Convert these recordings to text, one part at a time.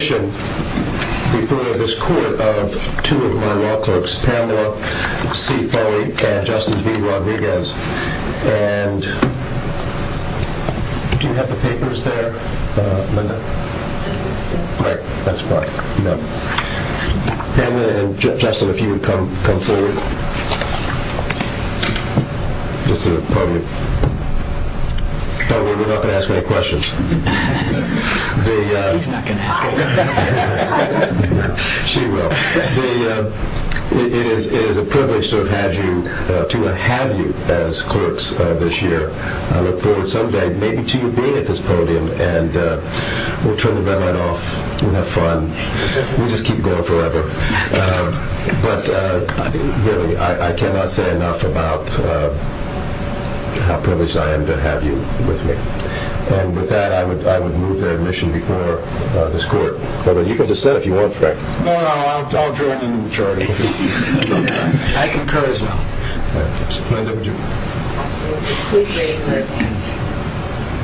In addition, we've heard of this court of two of my law clerks, Pamela C. Kelly and Justin B. Rodriguez. And do we have the papers there? No. Right, that's right. Pamela and Justin, if you would come forward. Let's see what the podium... Don't worry, we're not going to ask any questions. She's not going to ask any questions. She will. It is a privilege to have you as clerks this year. I look forward to someday maybe to you being at this podium and we'll turn the bell right off and have fun. We'll just keep going forever. But really, I cannot say enough about how privileged I am to have you with me. And with that, I would move that admission before this court. But as I said, if you want to... No, no, I'll join the majority. I concur as well. I do, too. We agree.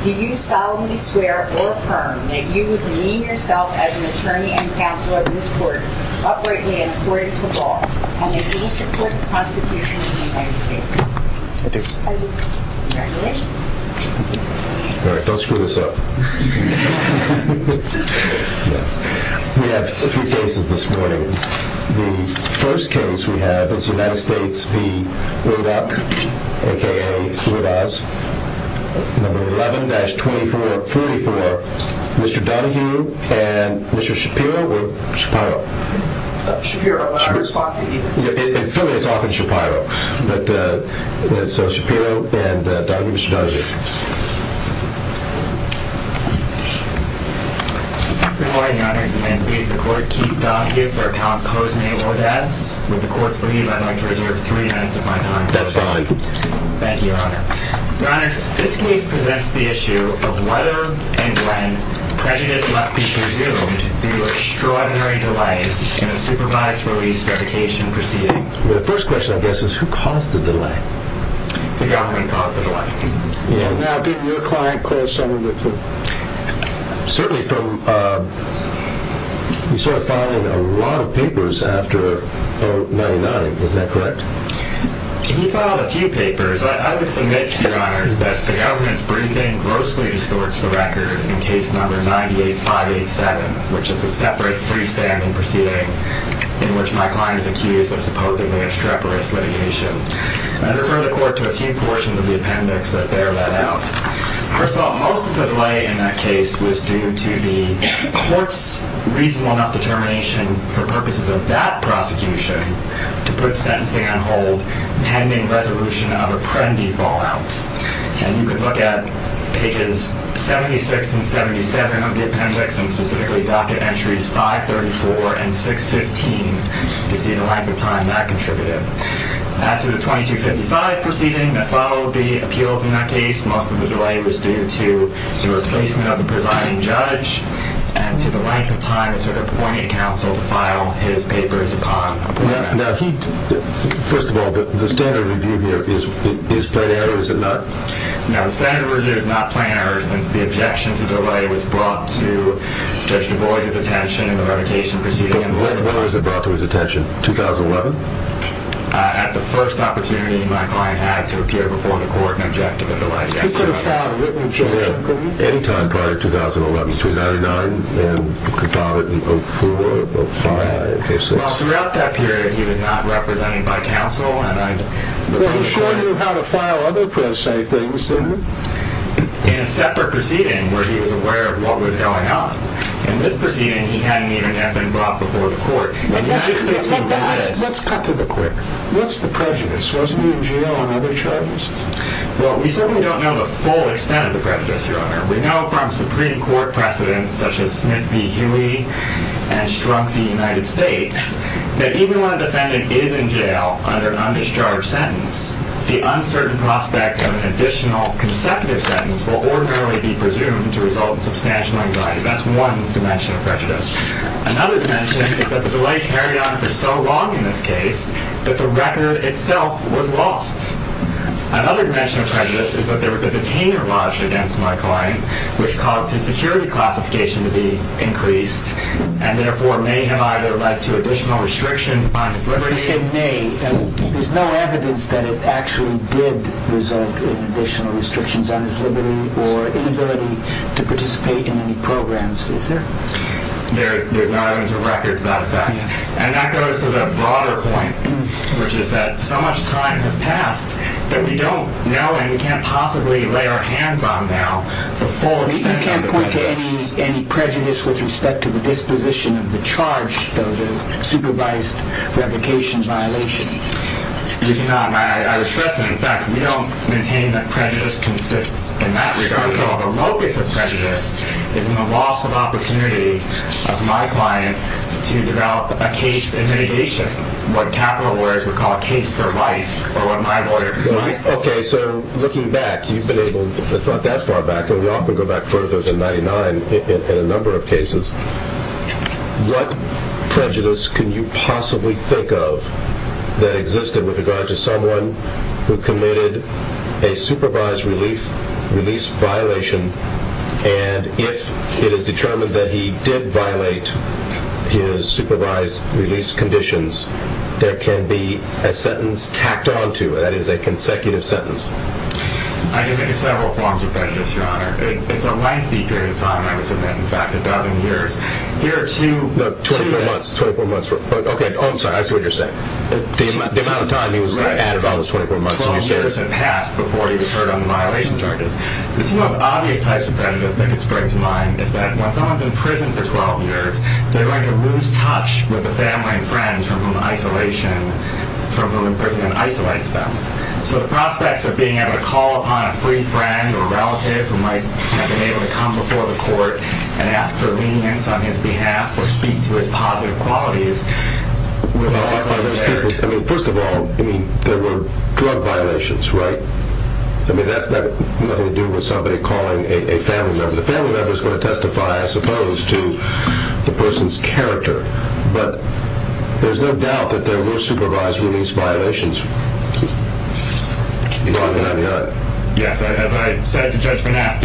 Do you solemnly swear or affirm that you would demean yourself as an attorney and counsel at this court, operating in accordance with law, and that you support the Constitution of the United States? I do. Thank you. All right, don't screw this up. We have a few cases this morning. The first case we have is an outspoken speed move-up, a.k.a. who has 11-24-34, Mr. Donahue and Mr. Shapiro or Shapiro? Shapiro, I was talking to you. It's funny, I was talking to Shapiro. So, Shapiro and Donahue, Mr. Donahue. Good morning, Your Honor. Thank you. The court keeps up with their counsels and they avoid that. Will the court please allow me to reserve three minutes of my time? That's fine. Thank you, Your Honor. Your Honor, this case presents the issue of whether and when prejudice about the issue of the extraordinary delight in a supervised police dedication proceeding. The first question, I guess, is who caused the delight? The government caused the delight. Now, didn't your client close some of the, certainly from, you started filing a lot of papers after 9-9, is that correct? He filed a few papers. I would imagine, Your Honor, that the government, for anything, in case number 98587, which is a separate free standing proceeding, in which my client is accused of supposedly extreporizing the issue. I refer that work to a few portions of the appendix that bear that out. First of all, most of the delight in that case was due to the court's reasonable enough determination for purposes of that prosecution to put a sentencing on hold, pending resolution of a credited fallout. And you can look at pages 76 and 77 of the appendix, and specifically docket entries 534 and 615, to see the length of time that contributed. As to the 2255 proceeding that followed the appeals in that case, most of the delight was due to the replacement of the presiding judge and to the length of time, certainly, for me to counsel to file his papers upon. Now, he, first of all, the standard of review here, is plenary, or is it not? No, the standard of review is not plenary. The objection to delay was brought to Judge DuBois' attention in the revocation proceeding. When was it brought to his attention? 2011? At the first opportunity my client had to appear before the court and object to the delay. You could have filed a written objection, couldn't you? Anytime prior to 2011, 2009, and could file it in 2004, 2005, 2006. Well, throughout that period, he was not represented by counsel, and I... Well, he showed you how to file other preside things, didn't he? In a separate proceeding, where he was aware of what was going on. In this proceeding, he hadn't even stepped in front before the court. And what's the prejudice? What's the prejudice? Wasn't he in jail on other charges? Well, we certainly don't know the full extent of the prejudice, Your Honor. We know from Supreme Court precedents, such as Smith v. Huey and Strump v. United States, that even when a defendant is in jail under an undischarged sentence, the uncertain prospect of an additional consecutive sentence will ordinarily be presumed to result in substantial injury. That's one dimension of prejudice. Another dimension is that the delay carried on for so long in this case that the record itself was lost. Another dimension of prejudice is that there was a container lodged against my client, which caused the security classifications to be increased, and therefore may have either led to additional restrictions on his liberty... When you say may, there's no evidence that it actually did result in additional restrictions on his liberty or inability to participate in any programs. There's not even a record about that. And that goes to the broader point, which is that so much time has passed that we don't know and we can't possibly lay our hands on now the full extent of the prejudice. You can't point to any prejudice with respect to the disposition of the charge of the supervised revocation violation. You cannot. I was threatened. In fact, we don't maintain that prejudice consists in that regard. Another dimension of prejudice is the loss of opportunity of my client to develop a case in radiation, what capital words would call a case for life or a life order. Okay, so looking back, you've been able to go that far back, and we often go back further than 99 in a number of cases. What prejudice can you possibly think of that existed with regard to someone who committed a supervised release violation, and if it is determined that he did violate his supervised release conditions, there can be a sentence tacked on to it, that is, a consecutive sentence. I can think of several forms of prejudice, Your Honor. It's a lengthy period of time. In fact, about a year or two. 24 months. 24 months. Okay, I'm sorry. I see what you're saying. The amount of time he was going to add about the 24 months on his case. 12 years have passed before he was heard on the violation charges. The two most obvious types of prejudice that can strike to mind is that once someone's in prison for 12 years, they're going to lose touch with the family and friends from whom the prison isolates them. So the prospects of being able to call upon a free friend or relative who might have been able to come before the court and ask for leniency on his behalf or speak to his popular qualities. First of all, there were drug violations, right? I mean, that had nothing to do with somebody calling a family member. The family member is going to testify, I suppose, to the person's character. But there's no doubt that there were supervised release violations. You're talking about a gun? Yes, I said just that.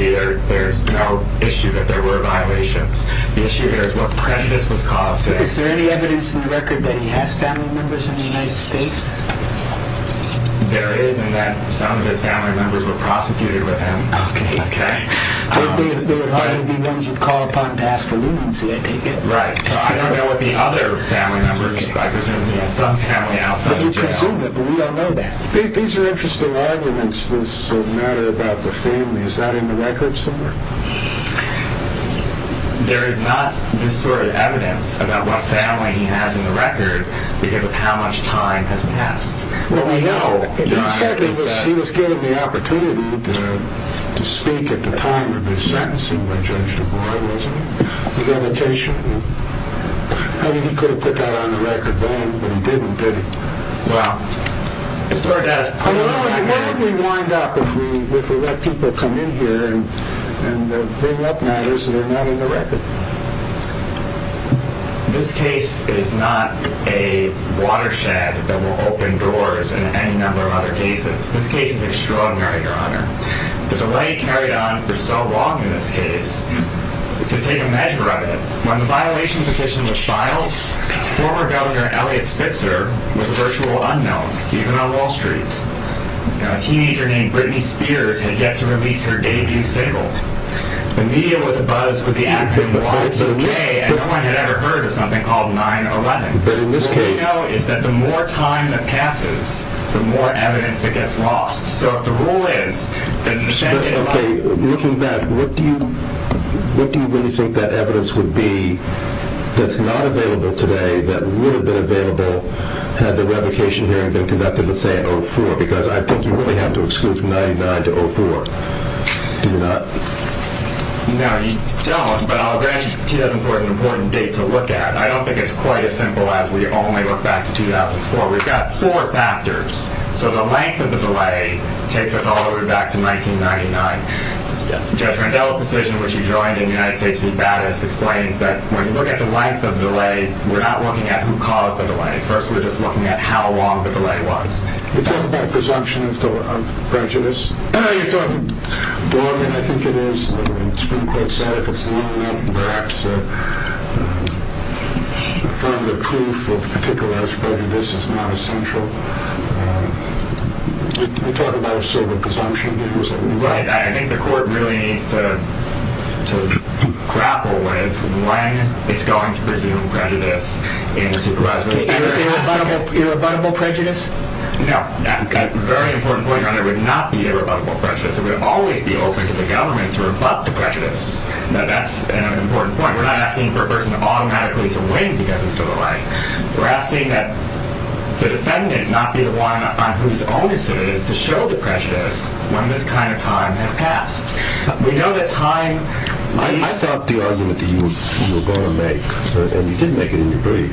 There's no issue that there were violations. I'm not sure what prejudice was caused there. Is there any evidence in the record that he has family members in the United States? There is. He has family members who were prosecuted by the family prosecutor. So there are going to be ones who call upon past allegations against him. Right. I don't know what the other family members are. I assume he has some family out there. We don't know that. These are interesting arguments that matter about the family. Is that in the record somewhere? There is not any sort of evidence about what family he has in the record, because how much time has passed. Well, we know. He said he was given the opportunity to speak at the time of his sentence, which I'm sure he wasn't. The allegation that he could have put that on the record, but he didn't, did he? Well, I don't know. How did we wind up with the people that come in here and bring up matters that are not in the record? In this case, it is not a water shaft that will open doors in any number of other cases. This case is extraordinary, Your Honor. There's a way carried on for so long in this case to take a measure on it. On the violation of the child, former Governor Elliott Spitzer was virtually unheard of, even on Wall Street. A TV journalist named Britney Spears had just released her debut single. The media was abuzz with the act, and the public so did they. At no point had I ever heard of something called 9-11. The mistake, though, is that the more time that passes, the more evidence that gets lost. So, if the rule is that the sentence is violated, what do you really think that evidence would be that's not available today, that would have been available had the reputation hearing been conducted the same, because I think you really have to exclude 9-11. Now, you tell us, but I'll thank you, Jim, for an important date to look at. I don't think it's quite as simple as we only look back to 2004. We've got four factors. So, the length of the delay takes us all the way back to 1999. Judge McDowell's position, which he joined in the United States, he's bad at explaining, but when you look at the length of the delay, we're not looking at who caused the delay. First, we're just looking at how long the delay was. You talk about presumption. I'm prejudiced. I think it is. It's been quite sad. If it's long, perhaps trying to prove for a particular aspect of this is not essential. You talk about a certain presumption. Right. I think the court really needs to grapple with when it's going to presume prejudice. Is it a rebuttable prejudice? No. That's a very important point. It would not be a rebuttable prejudice. We would always be open to the government to rebut the prejudice. That's an important point. We're not asking for a person to automatically win against us or something like that. We're asking that the defendant not be the one who's always committed to show the prejudice when that kind of time has passed. We know that time... I thought the argument that you were going to make, and you did make it in your brief,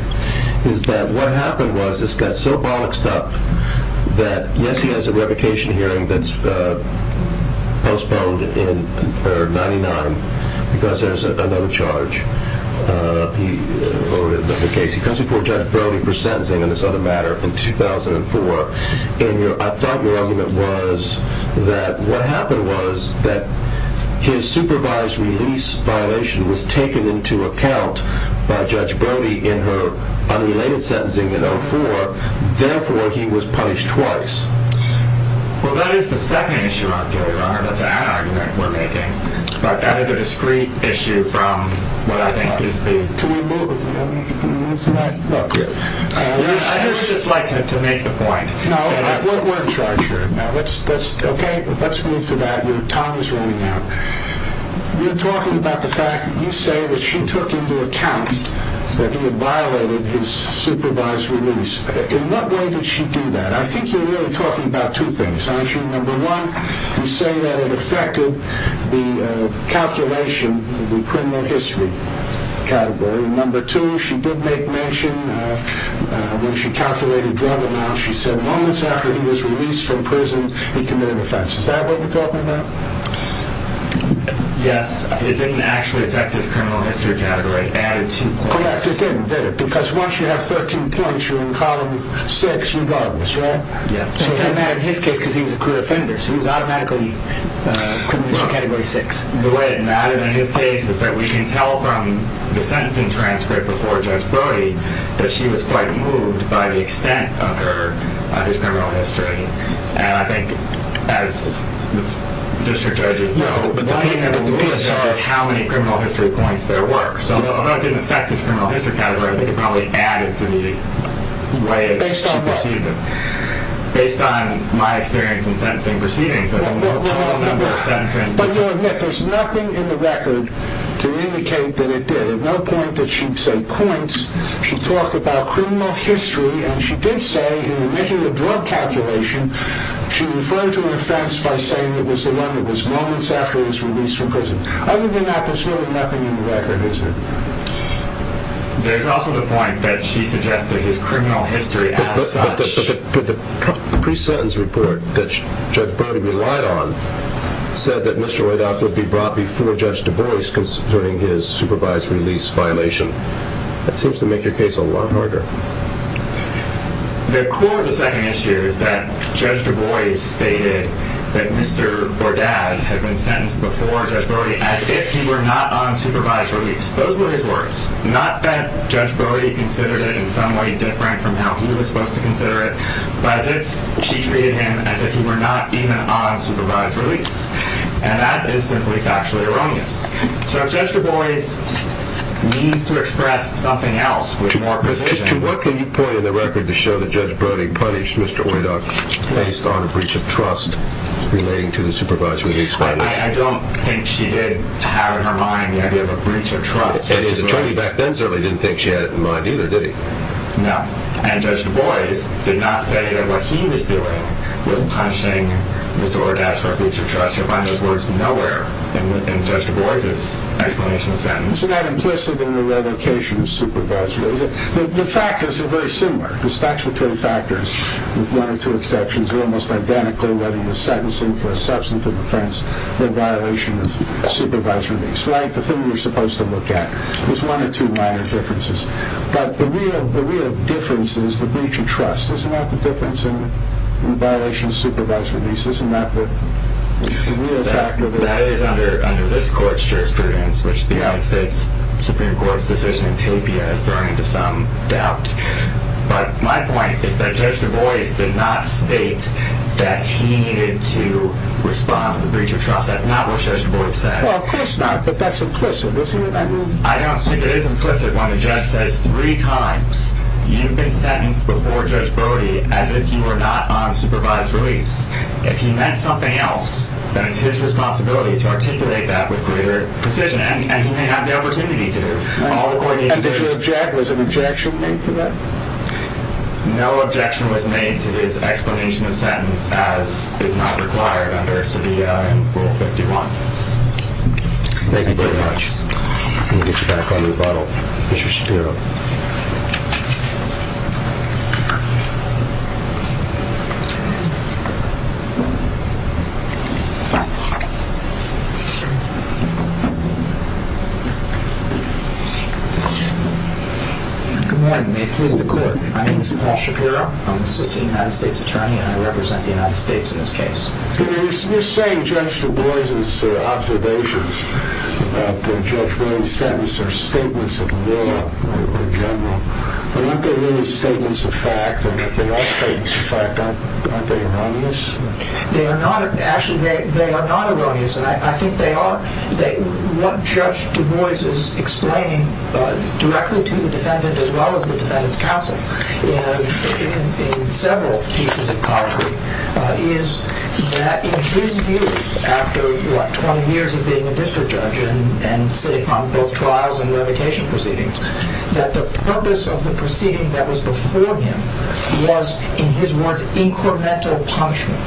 is that what happened was it's got so boxed up that, yes, he has a revocation hearing that's postponed in 1999 because there's a low charge. He comes before a judge for only presenting in this other matter in 2004. I thought your argument was that what happened was that his supervised release violation was taken into account by Judge Brody in her unrelated sentencing in 2004. Therefore, he was punished twice. Well, that is the second issue up there. That's an ad argument we're making. But that is a discrete issue from what I think is being... Can we move? Can we move to that? Okay. I'd just like to make a point. No, we're in charge here. Okay, let's move to that. Your time is running out. You're talking about the fact that you say that she took into account that he had violated his supervised release. In what way did she do that? I think you're really talking about two things, aren't you? Number one, you say that it affected the calculation of the criminal history category. Number two, she did make mention when she calculated drug amounts, she said long after he was released from prison, he committed an offense. Is that what you're talking about? Yes. It didn't actually affect his criminal history category. I added two points. Because once you have 13 points, you're in column six regardless, right? Yes. He didn't have a head kick because he was a crude offender, so he was automatically in criminal history category six. The way it plays is that we can tell from the sentencing transcript before Judge Brody that she was quite moved by the extent of her criminal history. And I think that is just for judges to know. But then you have to realize how many criminal history points there were. So although it didn't affect his criminal history category, I think it probably added to the way that she perceived him. Based on my experience in sentencing proceedings, But you'll admit there's nothing in the record to indicate that it did. There's no point that she'd say points. She talked about criminal history, and she did say in the middle of drug calculation she referred to an offense by saying it was the one that was moments after his release from prison. Other than that, there's really nothing in the record, is there? There's also the point that she suggested his criminal history added to it. The pre-sentence report that Judge Brody relied on said that Mr. Bordas would be brought before Judge DuBois considering his supervised release violation. That seems to make your case a lot harder. The core of the second issue is that Judge DuBois stated that Mr. Bordas had been sentenced before Judge Brody as if he were not on supervised release. Those were his words. Not that Judge Brody considered it in some way different from how he was supposed to consider it, but as if she treated him as if he were not being on supervised release. And that is simply factually erroneous. So Judge DuBois needs to express something else with more precision. Mr. Chiu, what can you point in the record to show that Judge Brody punished Mr. Wynok based on a breach of trust relating to the supervised release violation? And his attorney back then certainly didn't think she had it in mind either, did he? No. And Judge Brody did not say that what he was doing was punishing Mr. Bordas for a breach of trust. It probably just went nowhere in Judge Brody's explanation of that. So that's implicit in the revocation of supervised release. The factors are very similar. The statutory factors, with one or two exceptions, are almost identical whether you're sentencing for a substantive offense or a violation of supervised release. It's like the thing you're supposed to look at. It's one or two minor differences. But the real difference is the breach of trust. Isn't that the difference in the violation of supervised release? Isn't that the real fact of the matter? That is under this court's jurisprudence, which the United States Supreme Court's decision could be unaffirming to some doubts. But my point is that Judge DuBois did not state that he needed to respond with a breach of trust. That's not what Judge Brody said. Well, it's not, but that's implicit, isn't it? I don't think it is implicit when the judge says three times, you've been sentenced before Judge Brody as if you were not on supervised release. If you meant something else, then it's his responsibility to articulate that with greater precision. And he may have the opportunity to. And did he object? Was an objection made to that? No objection was made to his explanation of the sentence as it was not required under Rule 51. Thank you very much. I'm going to get you back under the bottle. Good morning. May it please be clear, my name is Paul Shapiro. I'm a citizen of the United States of China and I represent the United States in this case. You're saying Judge DuBois' observations that Judge Brody sent are statements of the law, more in general. Aren't they really statements of fact? And if they're not statements of fact, aren't they erroneous? They are not. Actually, they are not erroneous. I think they are. One Judge DuBois has explained directly to the defendant as well as the defendant's counsel in several cases of power is that his view, after 20 years of being a district judge and sitting on both trials and revocation proceedings, that the purpose of the proceeding that was before him was, in his words, incremental punishment,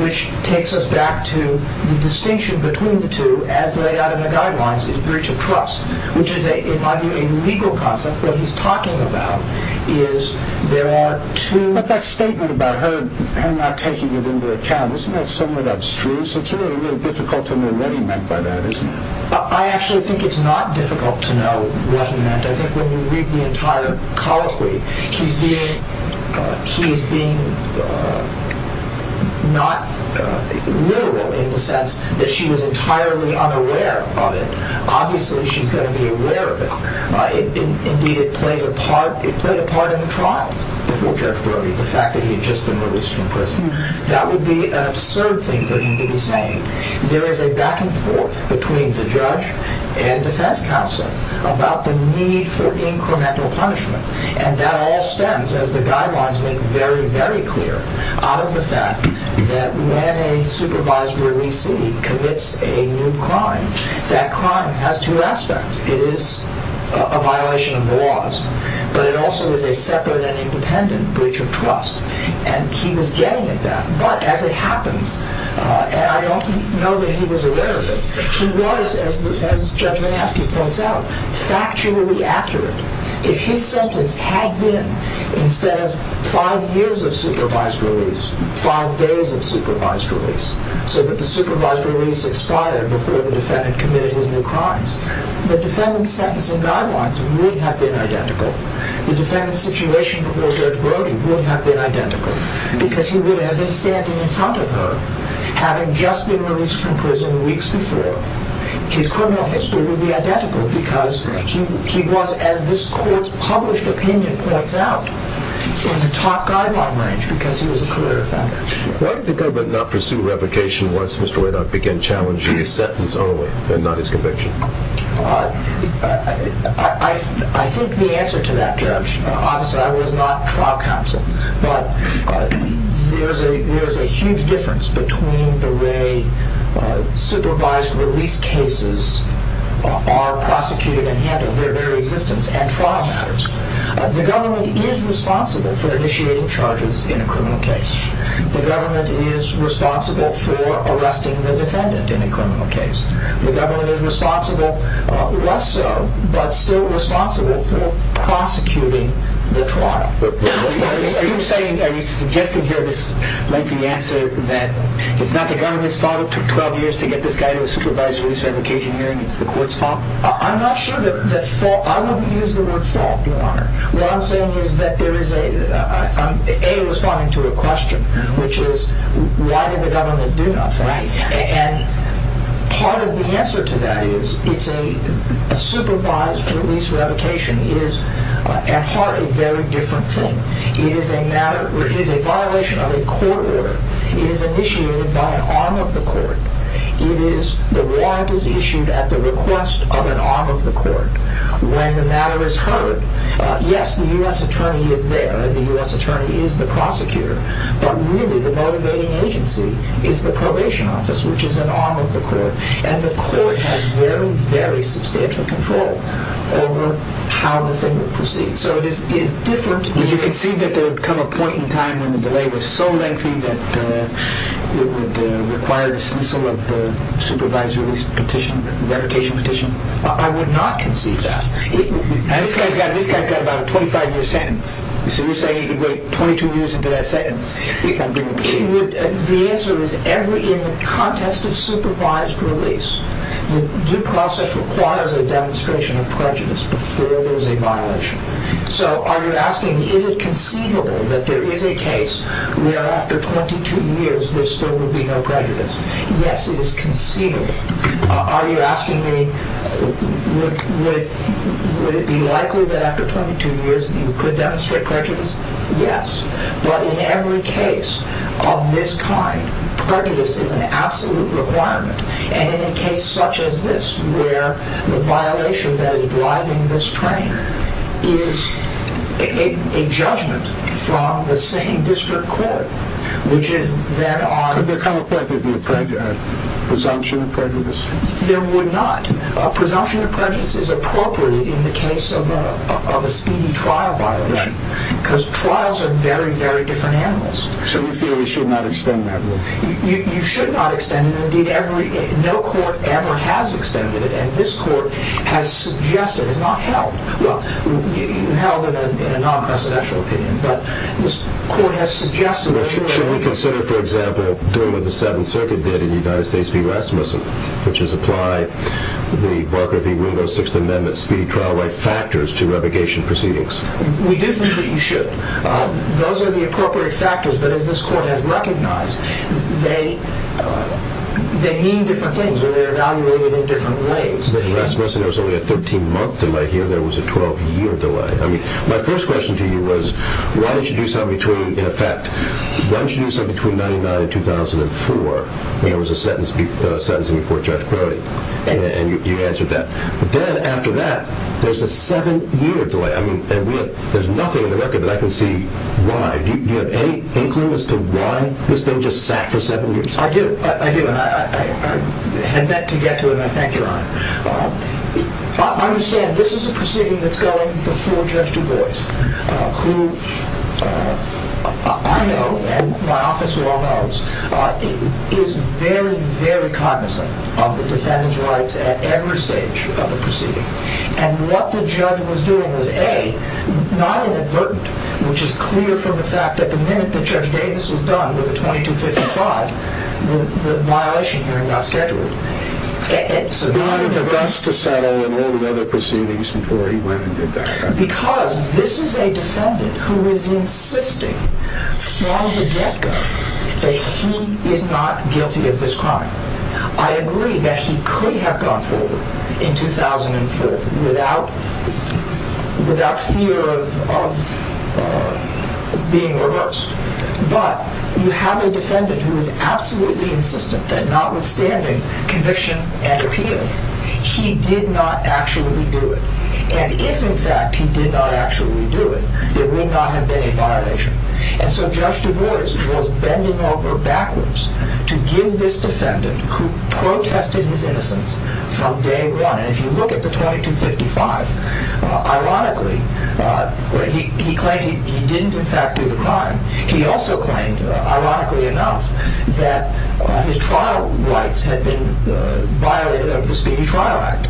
which takes us back to the distinction between the two as laid out in the guidelines, the breach of trust, which is a, by the way, legal concept that he's talking about is there are two... But that statement about her not taking it into account, isn't that something that's true? So it's really a little difficult to know what he meant by that, isn't it? I actually think it's not difficult to know what he meant. I think when you read the entire colloquy, he's being not literal in the sense that she was entirely unaware of it. Obviously, she's going to be aware of it. Indeed, it played a part in the trial before Jeff Burry, the fact that he had just been released from prison. That would be an absurd thing for him to be saying. There is a back-and-forth between the judge and the defense counsel about the need for incremental punishment. And that all stems, as the guidelines make it very, very clear, out of the fact that when a supervised release lead commits a new crime, that crime has two aspects. It is a violation of the laws, but it also is a separate and intended breach of trust. And he was getting at that. But as it happened, and I don't know that he was aware of it, he was, as the defense judge has to point out, factually accurate. If he sent a tag-in that says, five years of supervised release, five days of supervised release, so that the supervised release expired before the defendant committed those new crimes, the defendant's sentencing guidelines would have been identical. The defendant's situation towards Jeff Burry would have been identical because he would have been standing in front of her having just been released from prison weeks before. His criminal history would be identical because he was, as this court's published opinion points out, he was a top guideline manager because he was a committed felon. Why did the government not pursue revocation once Mr. Whitehouse began challenging his sentence only and not his conviction? I think the answer to that, Judge, obviously I was not trial counsel, but there's a huge difference between the way supervised release cases are prosecuted and handled, their very existence, and trial matters. The government is responsible for initiating charges in a criminal case. The government is responsible for arresting the defendant in a criminal case. The government is responsible, less so, but still responsible for prosecuting the trial. Are you saying, I mean, Jeff can hear this lengthy answer, that it's not the government's fault, it took 12 years to get this guy to a supervised release revocation hearing, it's the court's fault? I'm not sure that's fault, I won't use the word fault, Your Honor. What I'm saying is that there is a, A was responding to a question, which is, why did the government do not try? And part of the answer to that is, it's a supervised release revocation is, at heart, a very different thing. It is a matter, it is a violation of a court order. It is initiated by an arm of the court. It is, the warrant is issued at the request of an arm of the court. When the matter is heard, yes, the U.S. attorney is there, the U.S. attorney is the prosecutor, but really, the motivating agency is the probation office, which is an arm of the court. And the court has very, very substantial control over how the thing will proceed. So, it's different. Do you concede that there would come a point in time when the delay was so lengthy that it would require the dismissal of the supervised release petition, revocation petition? I would not concede that. And this guy's got about a 25-year sentence, so he's saying he could wait 22 years to get that sentence. The answer is, every year, in the context of supervised release, the process requires a demonstration of prejudice before there's a violation. So, are you asking, is it conceivable that there is a case where, after 22 years, there still would be no prejudice? Yes, it is conceivable. Are you asking me, would it be likely that, after 22 years, you could demonstrate prejudice? Yes. But in every case of this kind, prejudice is an absolute requirement. And in a case such as this, where the violation that is driving this crime is a judgment from the same district court, would there come a point where there would be a presumption of prejudice? There would not. A presumption of prejudice is appropriate in the case of a speedy trial violation, because trials are very, very different animals. So you feel we should not extend that rule? You should not extend it. No court ever has extended it, and this court has suggested, it was not held in a non-presidential opinion, but this court has suggested it. Should we consider, for example, doing what the Seventh Circuit did in the United States v. Rasmussen, which is apply the Margaret v. Rudin of the Sixth Amendment speedy trial right factors to revocation proceedings? We do think you should. Those are the appropriate factors, but as this court has recognized, they mean different things, and they're evaluated in different ways. In Rasmussen, there was only a 13-month delay. Here, there was a 12-year delay. My first question to you was, why don't you do something between, in effect, why don't you do something between 1999 and 2004, when there was a sentence in your court charge of cruelty? And you answered that. Then, after that, there's a seven-year delay. I mean, there's nothing in the record that I can see why. Do you have any inkling as to why this thing just sat for seven years? I do. I do. I had meant to get to it, and I thank you, Your Honor. I understand this is a proceeding that's going before Judge DuBose, who I know, and my office well knows, is very, very cognizant of the defendant's rights at every stage of the proceeding. And what the judge was doing was, A, not an advert, which is clear from the fact that the minute that Judge Davis was done with the 2255, the violation was not scheduled. It's not an adverse procedure, and all the other proceedings before he landed there. Because this is a defendant who is insisting, from the get-go, that she is not guilty of this crime. I agree that she could have gone forward in 2004 without fear of being arrested. But you have a defendant who is absolutely insistent that notwithstanding conviction and appeal, she did not actually do it. And if, in fact, she did not actually do it, it would not have been a violation. And so Judge DuBose chose bending over backwards to give this defendant, who protested his innocence from day one, and if you look at the 2255, ironically, he claimed he did not do the crime. He also claimed, ironically enough, that his trial rights had been violated under the Speedy Trial Act.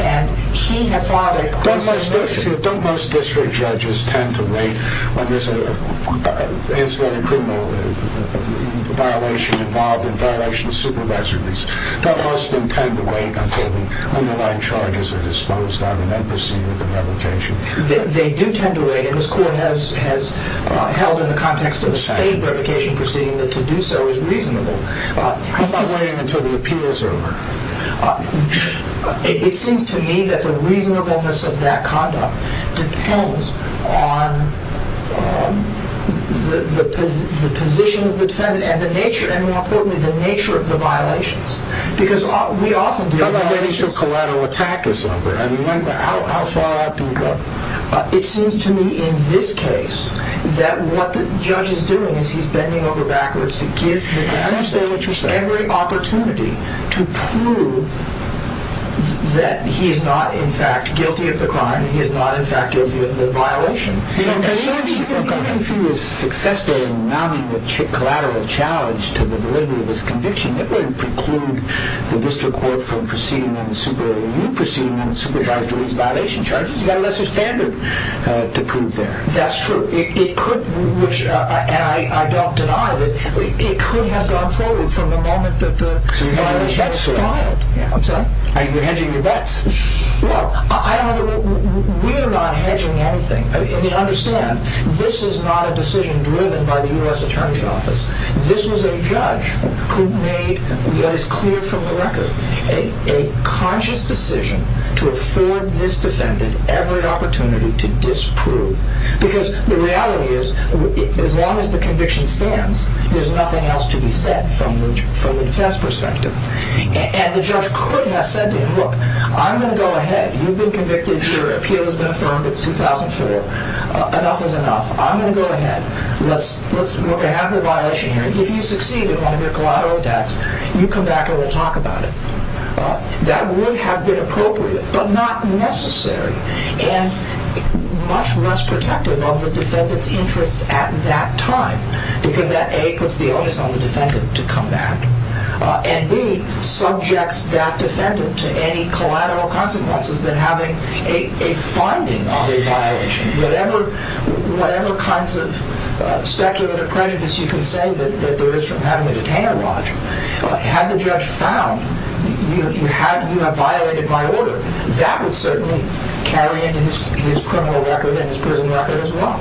And he had filed it. Judge DuBose district judges tend to wait on this incident of criminal violation involved in violation of civil residence. Judge DuBose didn't tend to wait until the underlying charges are disposed down in that proceeding. They do tend to wait. And this Court has held in the context of the Speedy Verification Proceeding that to do so is reasonable. I'm not going into the appeals area. It seems to me that the reasonableness of that conduct depends on the position of the defendant and the nature of the violations. Because we often deal with violations of collateral attack or something. I mean, how far up do we go? It seems to me, in this case, that what the judge is doing is he's bending over backwards to give the defendant every opportunity to prove that he is not, in fact, guilty of the crime, he is not, in fact, guilty of the violation. If he was successful in mounting a collateral challenge to the validity of his conviction, that would preclude the district court from proceeding on the civil liability proceeding on the civil liability violation charges. He has a standard to prove that. That's true. It could, and I don't deny that it could have gone forward from the moment that the judge filed. I'm sorry? Are you hedging your bets? Well, we are not hedging anything. I mean, understand, this is not a decision driven by the U.S. Attorney's Office. This is a judge who made, yet it's clear from the record, a conscious decision to afford this defendant every opportunity to disprove. Because the reality is, as long as the conviction stands, there's nothing else to be said from the defense perspective. And the judge could have said to him, look, I'm going to go ahead. You've been convicted. Your appeal has been affirmed. It's 2004. Enough is enough. I'm going to go ahead. Let's look at every violation. If you succeed in mounting a collateral death, you come back and we'll talk about it. That would have been appropriate, but not necessary, and much less protective of the defendant's interest at that time, because that, A, could be on the defendant to come back, and, B, subjects that defendant to any collateral consequences than having a finding of a violation. Whatever kinds of speculative prejudice you can say that there is from having a detainer watch, had the judge found you have violated my order, that would certainly carry into his criminal record and his prison record as well.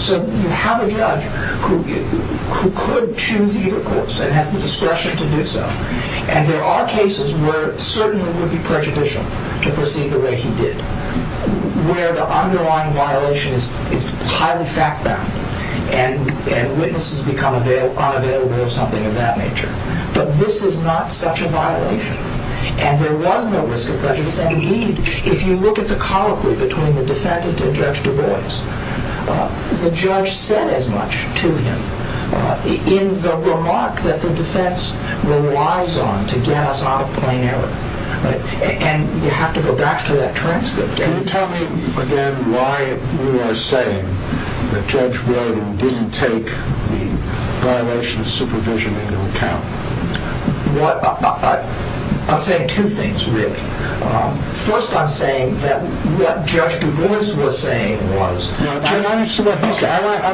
So you have a judge who could choose either course and have the discretion to do so, and there are cases where it certainly would be prejudicial to proceed the way he did, where the underlying violation is highly fact-bound and witnesses become unavailable or something of that nature. But this is not such a violation, and there was no recidivism. If you look at the colloquy between the defendant and Judge Du Bois, the judge said as much to him in the remark that the defense relies on to get us out of plain error. And you have to go back to that transcript. Tell me, again, why you are saying Judge Du Bois didn't take violation of supervision into account. I'm saying two things, Rick. First, I'm saying that what Judge Du Bois was saying was... I'm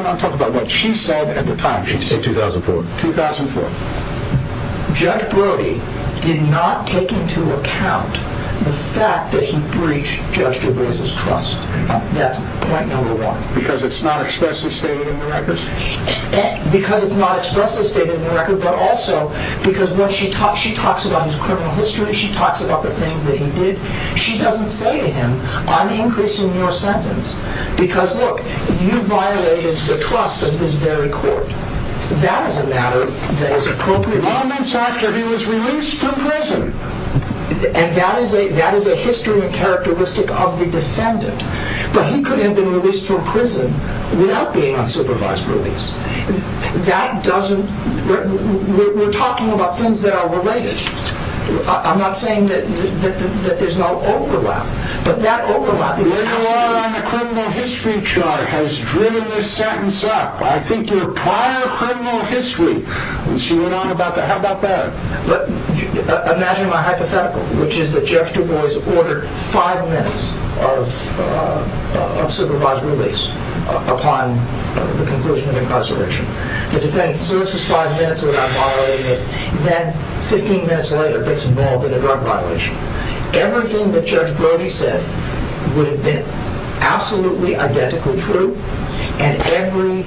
not talking about what she said at the time. She said 2004. 2004. Judge Brody did not take into account the fact that he breached Judge Du Bois' trust. That's point number one. Because it's not expressly stated in the records? Because it's not expressly stated in the records, but also because when she talks about his criminal history, she talks about the things that he did, she doesn't say to him, I'm increasing your sentence. Because, look, you violated the trust of this very court. That is a matter that is appropriate. Long after he was released from prison. And that is a history and characteristic of the defendant. But he couldn't have been released from prison without being on supervised release. That doesn't... We're talking about things that are related. I'm not saying that there's no overlap. But that overlap... You've been working a lot on the criminal history chart, has driven this sentence up. I think your prior criminal history... She went on about the... How about that? Imagine my hypothetical, which is that Judge Du Bois ordered five minutes of supervised release upon the conclusion of the prosecution. The defendant loses five minutes without violating it. Then, 15 minutes later, gets involved in a drug violation. Everything that Judge Brody said would have been absolutely identically true, and every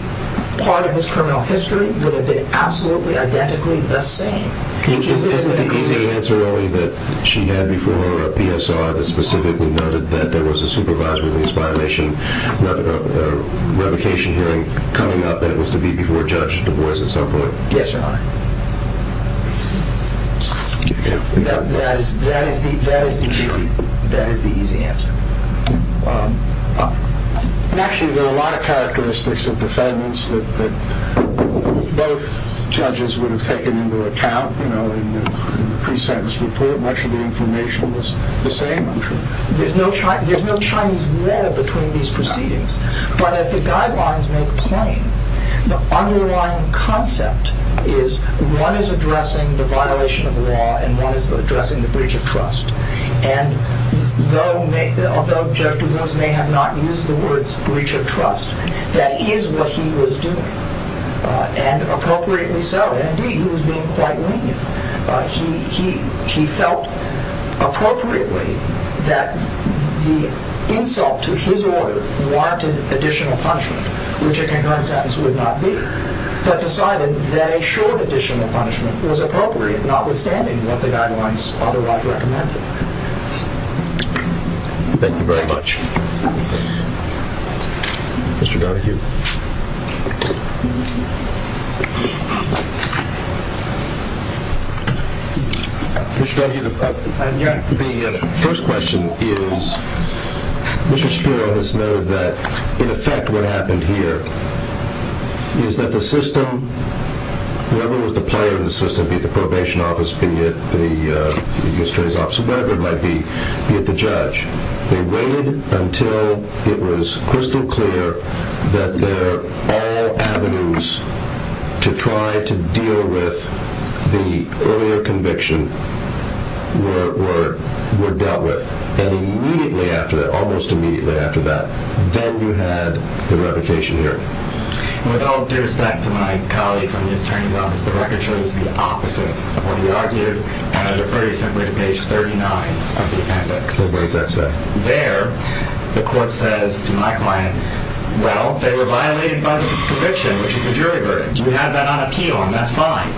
part of his criminal history would have been absolutely identically the same. Is that the answer only that she had before PSR that specifically noted that there was a supervised release violation? Not a revocation hearing, coming out that it was to be before Judge Du Bois at some point? Yes, Your Honor. That is very, very easy. Very easy answer. Actually, there are a lot of characteristics of defendants that both judges would have taken into account in the pre-sentence report. Much of the information was the same, I'm sure. There's no Chinese law between these proceedings, but the guidelines make it plain. The underlying concept is one is addressing the violation of law and one is addressing the breach of trust. And though Judge Du Bois may have not used the words breach of trust, that is what he was doing, and appropriately so. Indeed, he was being quite lenient. He felt appropriately that the insult to his lawyer warranted additional punishment, which I concur with that, this would not be. But decided that a short additional punishment was appropriate, notwithstanding what the guidelines otherwise recommended. Thank you very much. Thank you. Mr. Duggan. Mr. Duggan, the first question is, Mr. Spiro has noted that, in effect, what happened here is that the system, whether it was the player of the system, be it the probation office, be it the attorney's office, whatever it might be, be it the judge, they waited until it was crystal clear that there were all avenues to try to deal with the earlier conviction, whatever it was dealt with, and immediately after that, almost immediately after that, then you had the reputation here. Well, with all due respect to my colleague from the attorney's office, I would like to add a phrase from page 39. There, the court says to my client, well, they were liable in front of the conviction, which is a jury verdict. We have that on a keel, and that's fine.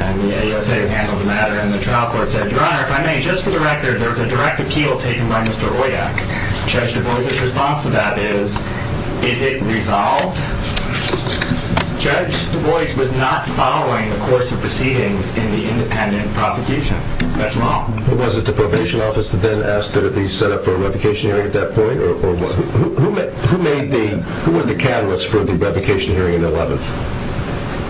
And the A.S.A. handled the matter, and the trial court said, Your Honor, if I may, Judge, the director, there was a directed keel taken by Mr. Royak. Judge, your voice's response to that is, it didn't resolve. Judge, Royak was not following the course of proceedings in the independent propagation. That's wrong. Was it the probation office that then asked that it be set up for a revocation hearing at that point, or was it, who made the, who were the catalysts for the revocation hearing in the 11th?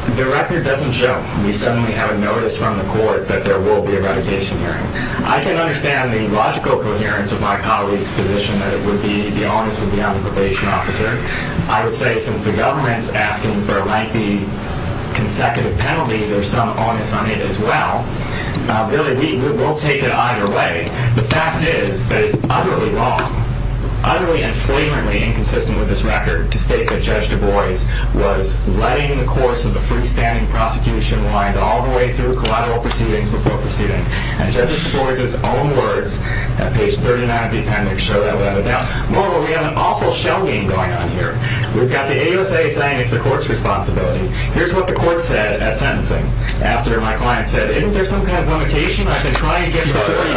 The director doesn't judge. We suddenly have a notice from the court that there will be a revocation hearing. I can understand the logical coherence of my colleague's position that it would be, to be honest, a non-probation officer. I would say, since the government's actions are likely consecutive penalties, there's some onus on it, as well. Billy, we will take it either way. The fact is that it's utterly wrong. Utterly and blatantly inconsistent with this record, to state that Judge Du Bois was letting the course of the free standing prosecution wind all the way through the trial proceedings and the propagation hearings, and Judge Du Bois' own words at page 39 of the appendix show that without a doubt, morally, we have an awful shell game going on here. We've got the ASA saying it's the court's responsibility. Here's what the court said at sentencing, after my client said it. There's some kind of limitation on the client.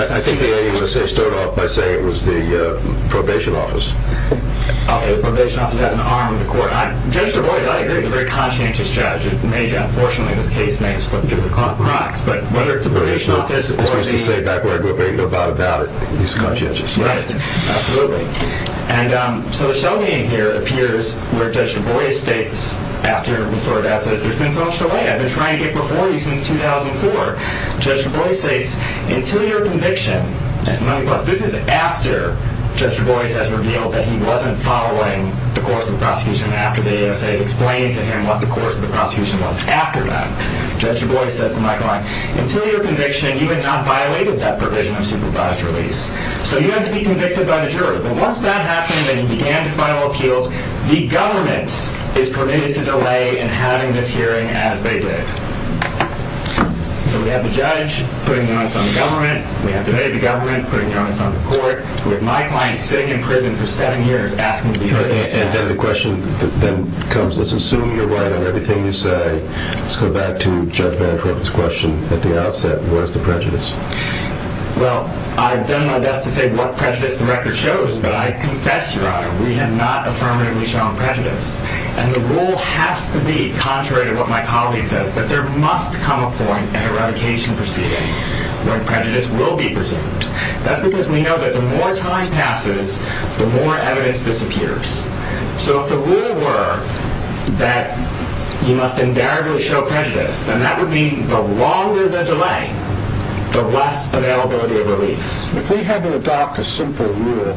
I think the ASA stood up by saying it was the probation office. Okay, the probation office got in the arm of the court. Judge Du Bois, I agree, it's a very conscientious judge. Unfortunately, the case may have split due to compromise. But whether it's the probation office, as far as he's laid back, we're going to make no doubt about it. It's conscientious, right? Absolutely. And so the shell game here appears where Judge Du Bois states, after the court has said, I've been trying to get before you since 2004, Judge Du Bois states, until your conviction, and I'm not even going to do this, after Judge Du Bois has revealed that he wasn't following the course of the prosecution after the ASA explained to him what the course of the prosecution was after that, Judge Du Bois said to my client, until your conviction, you have not violated that provision of supervised release. So you have to be convicted by the jury. Well, once that happens, and he began to file appeals, the government is permitted to delay in having this hearing as they did. So we have the judge putting comments on the government, we have the state government putting comments on the court, with my client staying in prison for seven years asking for the hearing. And the question then comes, let's assume you're right on everything you say. Let's go back to Judge Bantrop's question at the outset. Where's the prejudice? Well, I've done my best to say what prejudice the record shows, but I confess, Your Honor, we have not affirmatively shown prejudice. And the rule has to be, contrary to what my colleague says, that there must come a point in a revocation proceeding when prejudice will be presented. That's because we know that the more time passes, the more evidence disappears. So if the rule were that you must invariably show prejudice, then that would be the longer there's a delay, the less availability of relief. If we had to adopt a simple rule,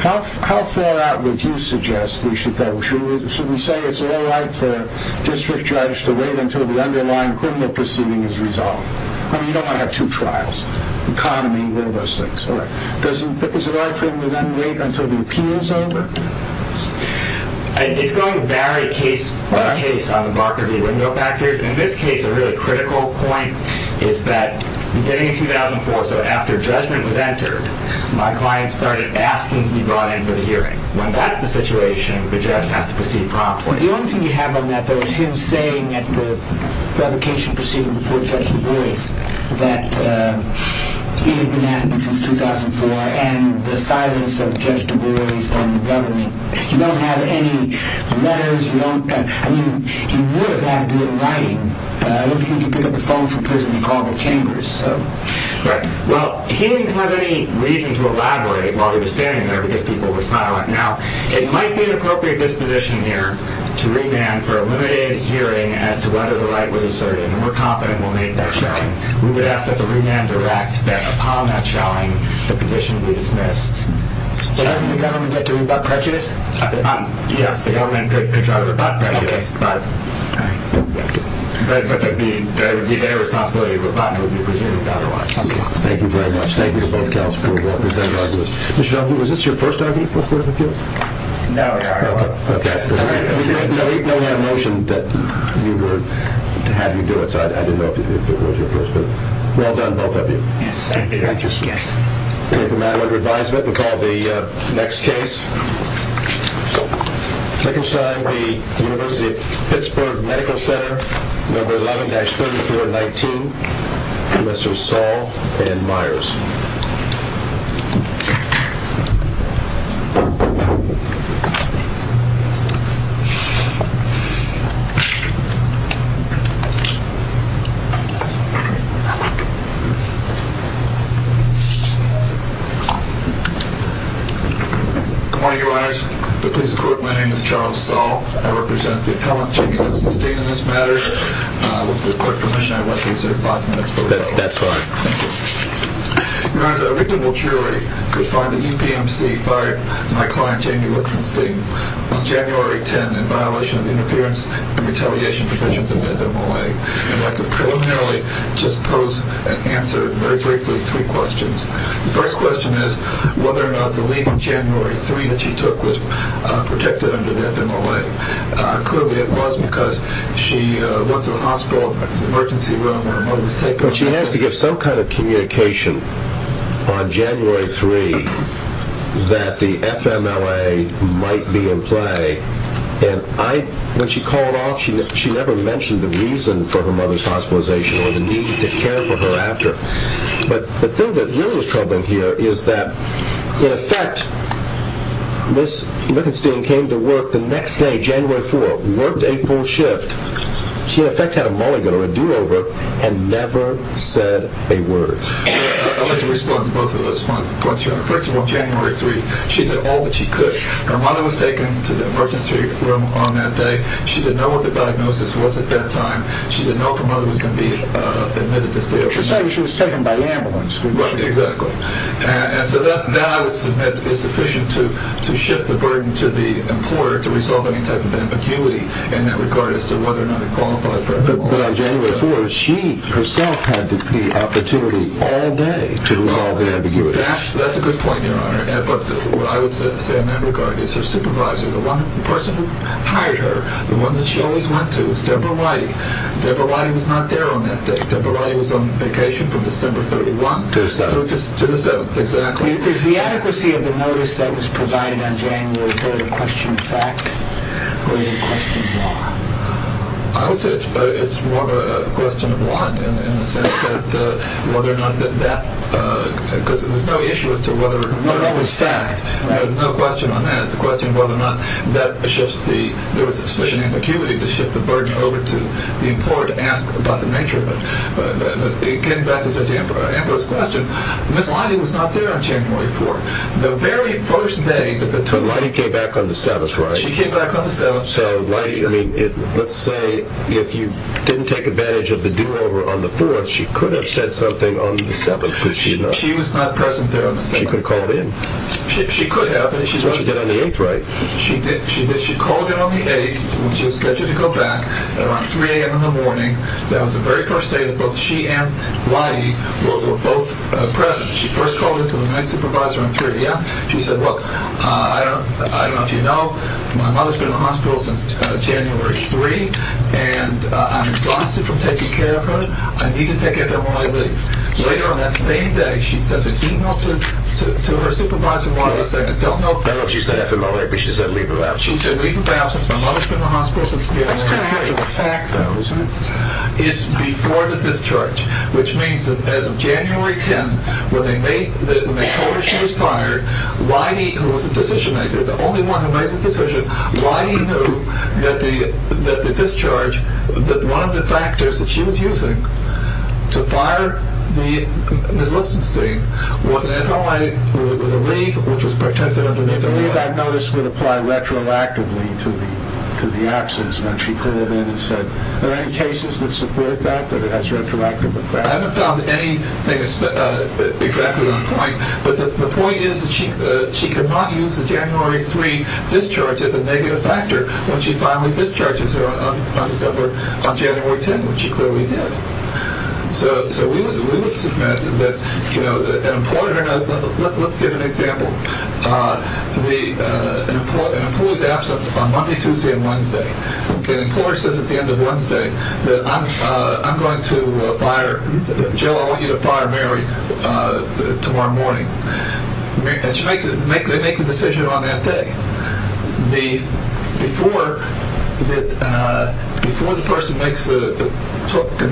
how far out would you suggest we should go? Should we say it's all right for a district judge to wait until the underlying criminal proceeding is resolved? I mean, you don't want to have two trials, economy, one of those things. Is it all right for him to then wait until the appeal is over? It's going to vary case by case on the Barker v. Wendell factor. In this case, a really critical point is that beginning in 2004, so after judgment was entered, my client started asking to be brought into the hearing. When that's the situation, the judge has to proceed promptly. Well, the only thing you have on that, though, is him saying that the revocation proceeding before Judge DeBruy that he had been at since 2004 and the silence of Judge DeBruy from the government. You don't have any letters. I mean, he would have had to do it in writing. I don't think he'd pick up the phone from prison and call the chambers. Correct. Well, he didn't have any reason to elaborate while he was standing there because people were silent. Now, it might be an appropriate disposition here to remand for a limited hearing as to whether the right was asserted and were confident it will make that trial. We would ask that the remand were acted upon that trial and the condition be dismissed. Judge, we have a remand for Judge Robach, right? Yes. We have a remand for Judge Robach, right? Right. Very quickly, we have a responsibility for Robach. Thank you very much. Thank you very much. Thank you for your testimony. Is this your first time here? No, I don't know. Okay. I didn't know you had a motion that you would have him do it, so I didn't know if it was your first time. Well done. Thank you. Thank you. Thank you. We have a matter of advisement. We'll call the next case. So, taking a shot at the University of Pittsburgh Medical Center, number 11, expert, year 19, Commissioner Saul M. Myers. Good morning, Your Honors. With this court, my name is Charles Stahl, and I represent the Appellant Committee on Substance Abuse Matters. With this court's permission, I would like to reserve five minutes to do that. That's fine. Your Honor, there will be no jury. The following e-mail is to be fired. My client, Jamie, was convicted on January 10th in violation of the interference and retaliation provisions of the Federal Law Act. I'd like to profoundly just pose and answer very briefly three questions. The first question is whether or not the meeting January 3rd that you took was protected under the FMLA. It was because she worked in a hospital in an emergency room. She asked to get some kind of communication on January 3rd that the FMLA might be in play. When she called off, she never mentioned the reason for her mother's hospitalization or the need to care for her after. But the thing that really was troubling here is that, in effect, Ms. Lippenstein came to work the next day, January 4th, worked April shift. She, in effect, had a mulligan, a do-over, and never said a word. I'd like to respond to both of those points. In effect, on January 3rd, she did all that she could. Her mother was taken to the emergency room on that day. She didn't know what the diagnosis was at that time. She didn't know if her mother was going to be admitted to the emergency room. She said she was taken by ambulance. Exactly. So that is sufficient to shift the burden to the employer to resolve any type of ambiguity in that regard as to whether or not it qualifies for FMLA. But on January 4th, she herself had the opportunity all day to resolve the ambiguity. That's a good point, Your Honor. But what I would say in that regard is her supervisor, the one person who hired her, the one that she always went to was Deborah White. Deborah White was not there on that day. Deborah White was on vacation from December 31st to December 2nd. Exactly. Is the adequacy of the notice that was provided on January 4th a question of fact? I would say it's more of a question of want in the sense that whether or not that because there's no issue as to whether or not it was fact. There's no question on that. It's a question of whether or not that was just the, you know, the sufficient ambiguity to shift the burden over to the employer to ask about the nature of it. Again, that's a different kind of question. Ms. White was not there on January 4th. The very first day that Ms. White was there. She came back on the 7th, right? She came back on the 7th. So, let's say if you didn't take advantage of the do-over on the 4th, she could have said something on the 7th, could she not? She was not present there on the 7th. She could have called in. She could have. But she did it on the 8th, right? She did. She called in on the 8th when she was scheduled to go back around 3 a.m. in the morning. That was the very first day that both she and White were both present. She first called in to the next supervisor on the 3rd, yeah? She said, look, I don't know if you know, and I'm exhausted from taking care of her. I need to take care of her more quickly. Later on that same day, she sent a e-mail to her supervisor on the 2nd. I don't know if that's what she said at the moment. I think she said leave her out. She said leave her out. It's been months since she's been in the hospital. It's been years. It's been years. The fact, though, is before the discharge, which means that as of January 10th, when they told her she was fired, Whitey, who was the position maker, the only one who made the decision, Whitey knew that the discharge, that one of the factors that she was using to fire the listeners, the leave, which was protected under NICA, that notice would apply retroactively to the absence when she pulled in and said there aren't any cases which support that, that it has retroactive effect. I haven't found anything exactly on point, but the point is that she could not use the January 3 discharge as a negative factor when she finally discharges her on January 10th, which is where we met. So we were surprised. Let's give an example. We pulled out on Monday, Tuesday, and Wednesday, and the court said at the end of Wednesday that I'm going to fire her, that Jill will be the primary tomorrow morning. And they make the decision on that day. Before the person makes the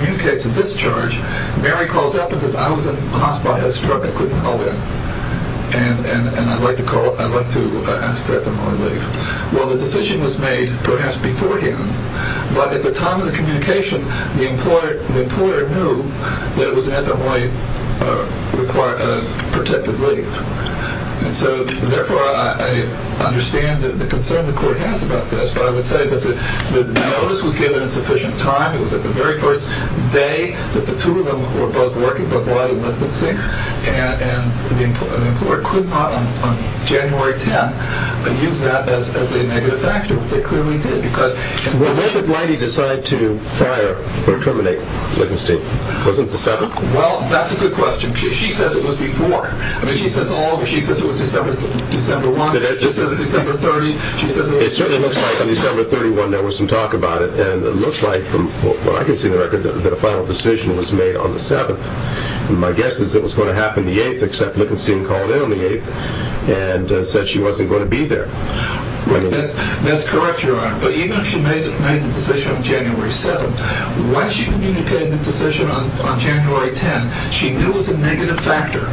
new case of discharge, Mary calls up and says, I was caused by a struggle with my wife, and I'd like to ask her if I can leave. Well, the decision was made perhaps beforehand, but at the time of the communication, the employer knew that it was under Whitey's requirement to protect the leave. And so, therefore, I understand the concern the court has about that. That's why I would say that although this was given sufficient time, it was at the very first day that the two of them were both working, but Whitey was on sick, and the employer could not, on January 10th, use that as a negative factor. They couldn't use it because when did Whitey decide to fire or terminate the decision? Well, that's a good question. She says it was before. She says all of it. She says it was December 1st, December 30th. It certainly looks like on December 31st there was some talk about it, and it looks like from what I can see on the record that a final decision was made on the 7th. And my guess is it was going to happen the 8th, except Lippenstein called in on the 8th and said she wasn't going to be there. That's correct, Your Honor. But even if she made the decision on January 7th, once she communicated the decision on January 10th, she knew it was a negative factor.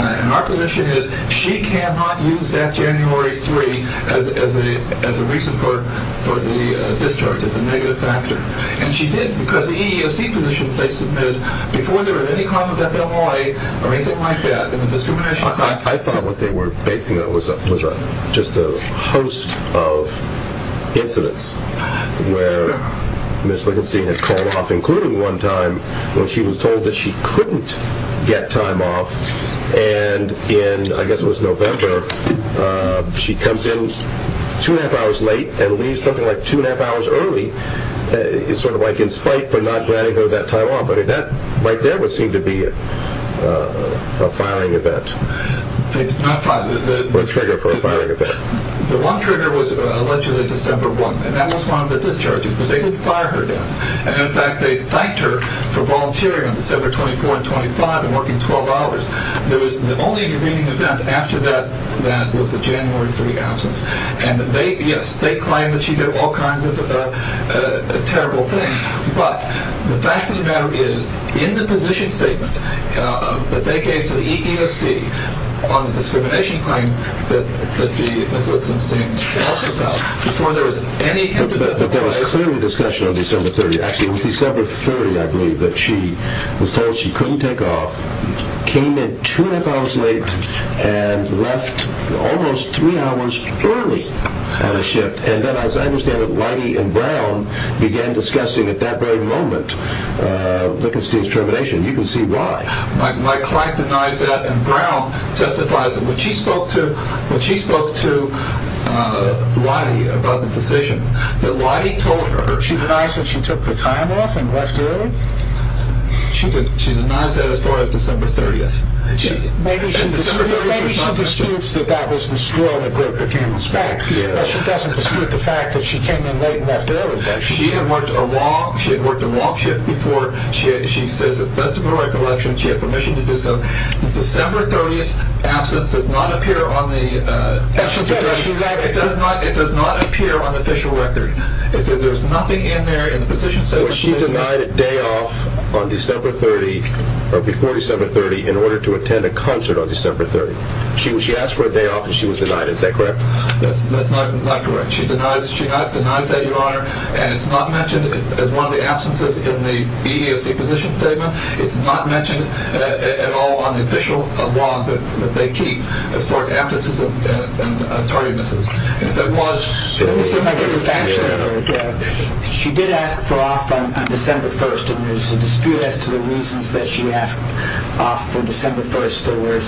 And my position is she cannot use that January 3rd as a reason for the discharge, as a negative factor, and she didn't. Because the EEOC position says before there was any cause for that, there was always a reason why she did that. I thought what they were basing it on was just a host of incidents where Ms. Lippenstein had called off including one time when she was told that she couldn't get time off. And in, I guess it was November, she comes in two and a half hours late and leaves something like two and a half hours early. It's sort of like in spite for not granting her that time off, but that right there would seem to be a firing event. It's not positive, but it's one trigger for a firing event. The one trigger was allegedly December 1st, and that was one of the discharges because they didn't fire her then. And in fact, they sanctioned her for volunteering on December 24th and 25th and working 12 hours. The only meeting that happened after that event was the January 3rd council. And yes, they claim that she did all kinds of terrible things, but the fact of the matter is in the position statement that they gave to the EEOC on the discrimination claim that Ms. Lippenstein talked about, before there was any conclusive discussion on December 30th. Actually, it was December 30th, I believe, that she was told she couldn't take off, came in two and a half hours late, and left almost three hours early at a shift. And then, as I understand it, Leidy and Brown began discussing at that very moment Lippenstein's termination. You can see why. My client denies that, and Brown testifies that when she spoke to Leidy about the position, that Leidy told her. She denies that she took the time off and left early? She denies that as far as December 30th. Maybe she disputes that that was the school that broke the cannon's back, but she doesn't dispute the fact that she came in late and left early. She had worked a long shift before. She has a vestibular recollection. She had permission to do so. The December 30th absence does not appear on the official record. There's nothing in there in the position statement. Well, she denied a day off on December 30th, or before December 30th, in order to attend a concert on December 30th. She asked for a day off, and she was denied. Is that correct? That's not correct. She has denied that, Your Honor, and it's not mentioned as one of the absences in the EEOC position statement. It's not mentioned at all on the official log that they keep as far as absences and tardinesses. She did ask for a day off on December 1st, and there's a dispute as to the reasons that she asked for a day off on December 1st. There were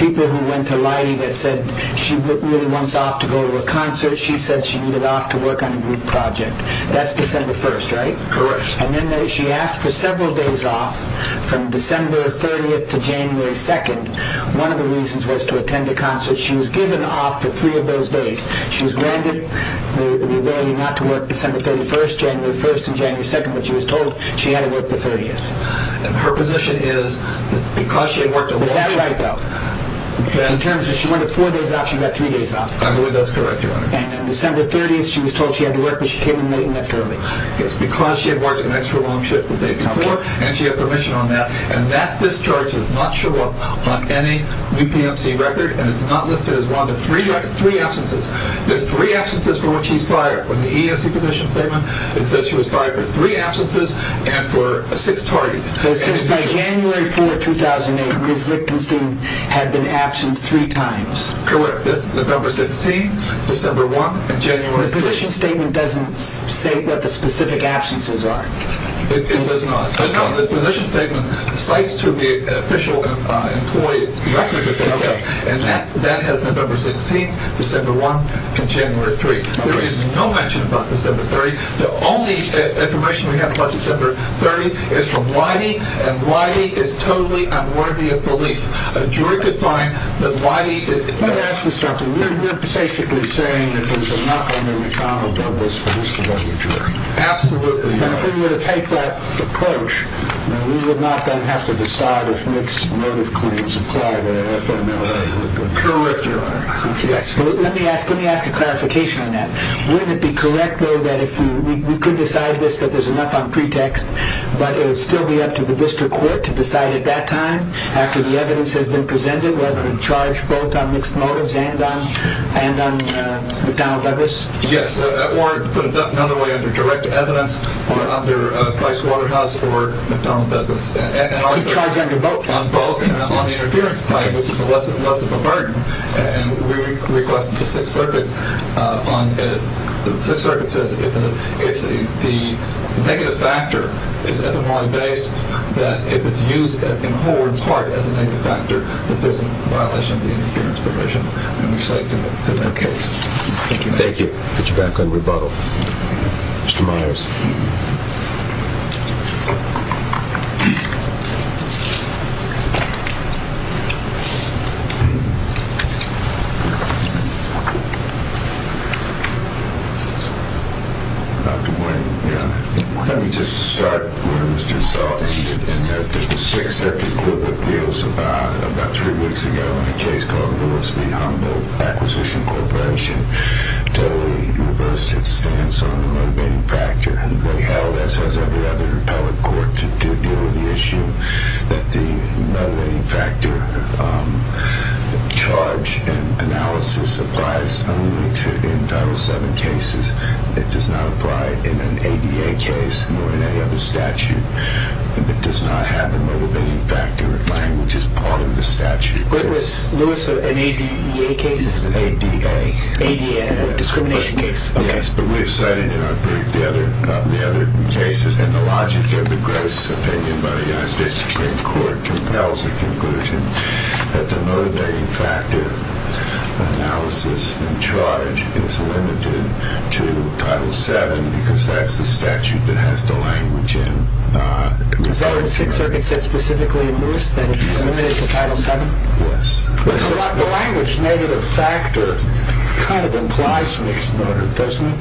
people who went to Leidy that said she really wants off to go to a concert. She said she needed off to work on a group project. That's December 1st, right? Correct. And then she asked for several days off from December 30th to January 2nd. One of the reasons was to attend a concert. She was given off to three of those days. She was granted the way not to work December 31st, January 1st, and January 2nd, but she was told she had to work the 30th. Her position is that because she worked the 30th... Is that right, though? In terms of she worked four days off, she got three days off. I believe that's correct, Your Honor. And on December 30th, she was told she had to work, but she came in late and left early. It's because she had worked an extra long shift the day before, and she had permission on that, and that discharge does not show up on any UPMC record, and it's not listed as one of the three absences. There's three absences from what she's fired from the EMC Commission, and so she was fired for three absences and for a sixth tardiness. So it says that January 4, 2008, Ms. Lipkenstein had been absent three times. November 16th, December 1st, and January 3rd. The position statement doesn't say what the specific absences are. It does not. The position statement cites to the official employee, and that is November 16th, December 1st, and January 3rd. There is no mention about December 30th. The only information we have about December 30th is from Wiley, and Wiley is totally unworthy of belief. A jury could find the body. Let me ask you something. You're specifically saying that there's enough on the recalibrate on this principle of the jury. Absolutely. And if we were to take that approach, we would not then have to decide if mixed motive claims apply. I don't know if that's true or not. Let me ask a clarification on that. Wouldn't it be correct, though, that if we could decide this, that there's enough on pretext, but it would still be up to the district court to decide at that time after the evidence has been presented, whether to charge both on mixed motives and on McDonnell Douglas? Yes. Another way is a direct evidence under Price Waterhouse or McDonnell Douglas. Charge on your vote. On the interference claim. This is a lesson learned, and we request that the circuit says if the negative factor, but if it's used as a core target factor, it doesn't violate the interference provision. Thank you. Thank you. Mr. Miles. Thank you. Let me just start. I'm going to start. I'm going to start. I'm going to start. Thank you. Thank you. I'm going to start. I'm going to start. Thank you. Is that what 636 says specifically in the list, then elimination of Title VII? Yes. The language, negative factor, kind of implies mixed motive, doesn't it?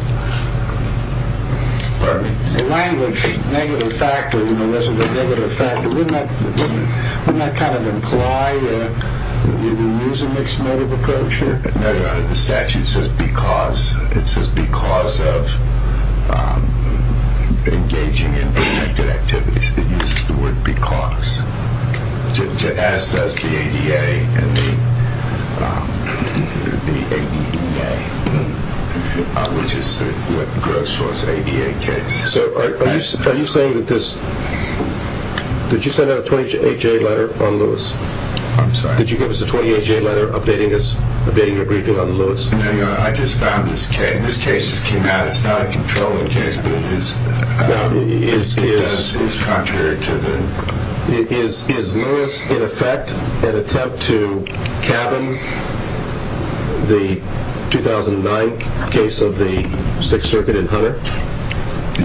Pardon me? The language, negative factor, in the list, the negative factor, wouldn't that kind of imply that we would lose a mixed motive approacher? No, no, no. The statute says because. It says because of engaging in independent activities. It would be cause, as does the ADA. The ADA, which is, you know, goes towards ADHA. So are you saying that this – did you send out a 28-J letter on those? I'm sorry? Did you give us a 28-J letter updating us, updating your briefing on Lewis? I just found this case. This case just came out. It's not a controlling case, but it is contrary to the – Is Lewis, in effect, an attempt to cabin the 2009 case of the Sixth Circuit in Hunter?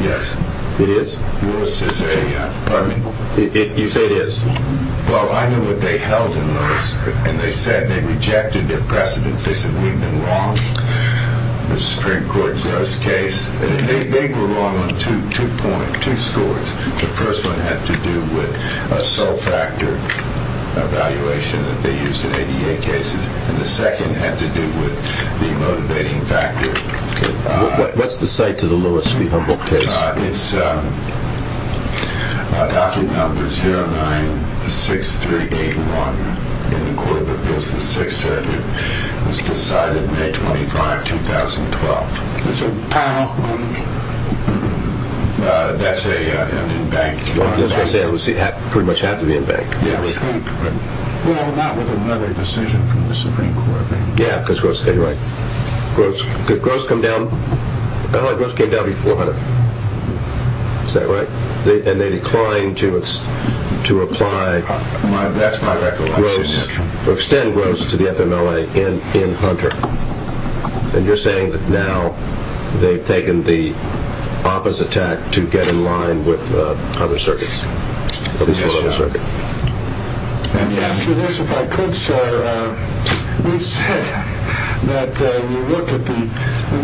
Yes. It is? Lewis is a – Pardon me? You say it is. Well, I knew what they held in Lewis, and they said they rejected the precedent. They said we were wrong. The Supreme Court's case, they were wrong in two points, two stories. The first one had to do with a sole factor evaluation that they used in ADA cases, and the second had to do with the motivating factor. What's the site to the Lewis case? It's document number 096381, the court of the Fifth and Sixth Circuit. It was decided May 25, 2012. Is it? I don't know what you mean. That's a bank. Well, as I say, it was pretty much after the invention. Yes. We'll have a lot more than one other decision from the Supreme Court. Yes, of course. Gross, did gross come down? I thought gross came down to 400. Is that right? And they declined to apply gross or extend gross to the FMLA in Hunter. And you're saying that now they've taken the opposite tact to get in line with other circuits. Yes, sir. And if I could, sir, please, that we look at the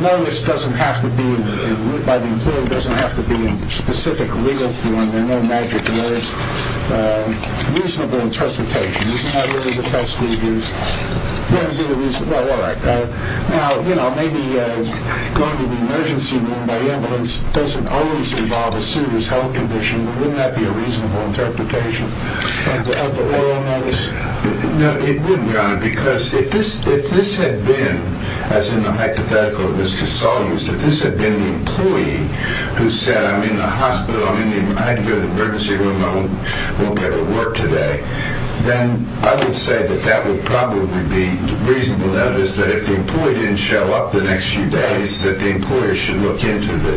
notice doesn't have to be, by the employee, doesn't have to be specific legal form. There are no magic words. Reasonable interpretation. This is not really the first we've used. Now, you know, maybe going to the emergency room by ambulance doesn't always involve a serious health condition. Wouldn't that be a reasonable interpretation? It wouldn't, because if this had been, as in the hypothetical, this had been the employee who said, I'm in the hospital, I'm in the emergency room, I won't be able to work today, then I would say that that would probably be reasonable. That is, that if the employee didn't show up the next few days, that the employer should look into the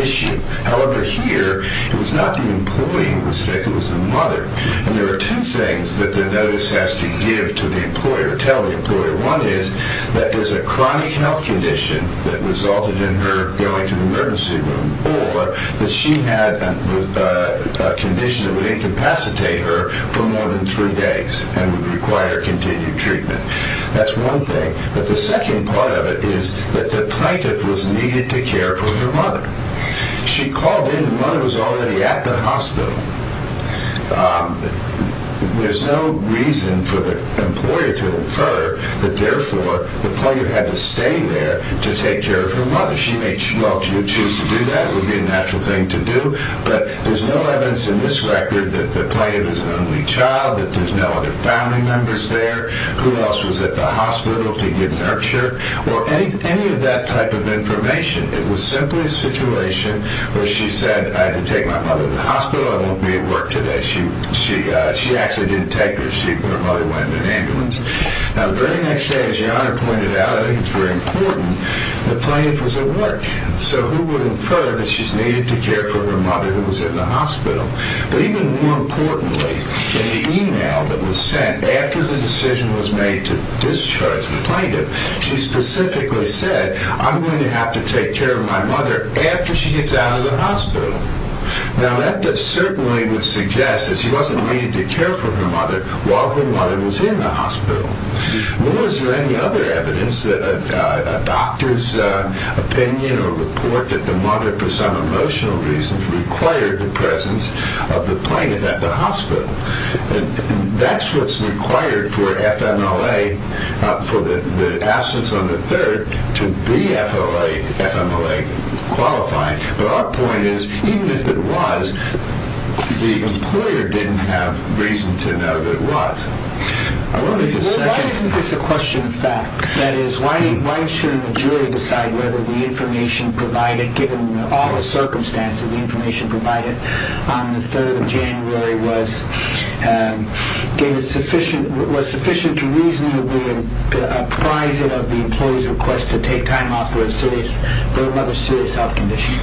issue. However, here, it was not the employee who was sick, it was the mother. And there are two things that the notice has to give to the employer, tell the employer what it is. That is, a chronic health condition that resulted in her going to the emergency room or that she had a condition that would incapacitate her for more than three days and would require continued treatment. That's one thing. But the second part of it is that the plaintiff was needed to care for her mother. She called in and the mother was already at the hospital. There's no reason for the employer to infer that therefore the plaintiff had to stay there to take care of her mother. She felt that that would be a natural thing to do, but there's no evidence in this record that the plaintiff was an only child, that there's no other family members there, who else was at the hospital to give nurture, or any of that type of information. It was simply a situation where she said, I can take my mother to the hospital, I won't be at work today. She actually didn't take her. She probably went in an ambulance. Now, the very next day, as John had pointed out, I think it's very important, the plaintiff was at work. So who would infer that she's needed to care for her mother who was in the hospital? But even more importantly, in the email that was sent after the decision was made to discharge the plaintiff, she specifically said, I'm going to have to take care of my mother after she gets out of the hospital. Now, that certainly would suggest that she wasn't needed to care for her mother while her mother was in the hospital. Was there any other evidence that a doctor's opinion or report of the mother for some emotional reason required the presence of the plaintiff at the hospital? That's what's required for FMLA, for the absence of a third to be FMLA qualified. Our point is, even if it was, the employer didn't have reason to know that it was. I want to get to that. It's a question of fact. That is, why should the jury decide whether the information provided, given all the circumstances, the information provided on the 3rd of January was sufficient to reasonably apprise it of the employee's request to take time off for a serious health condition?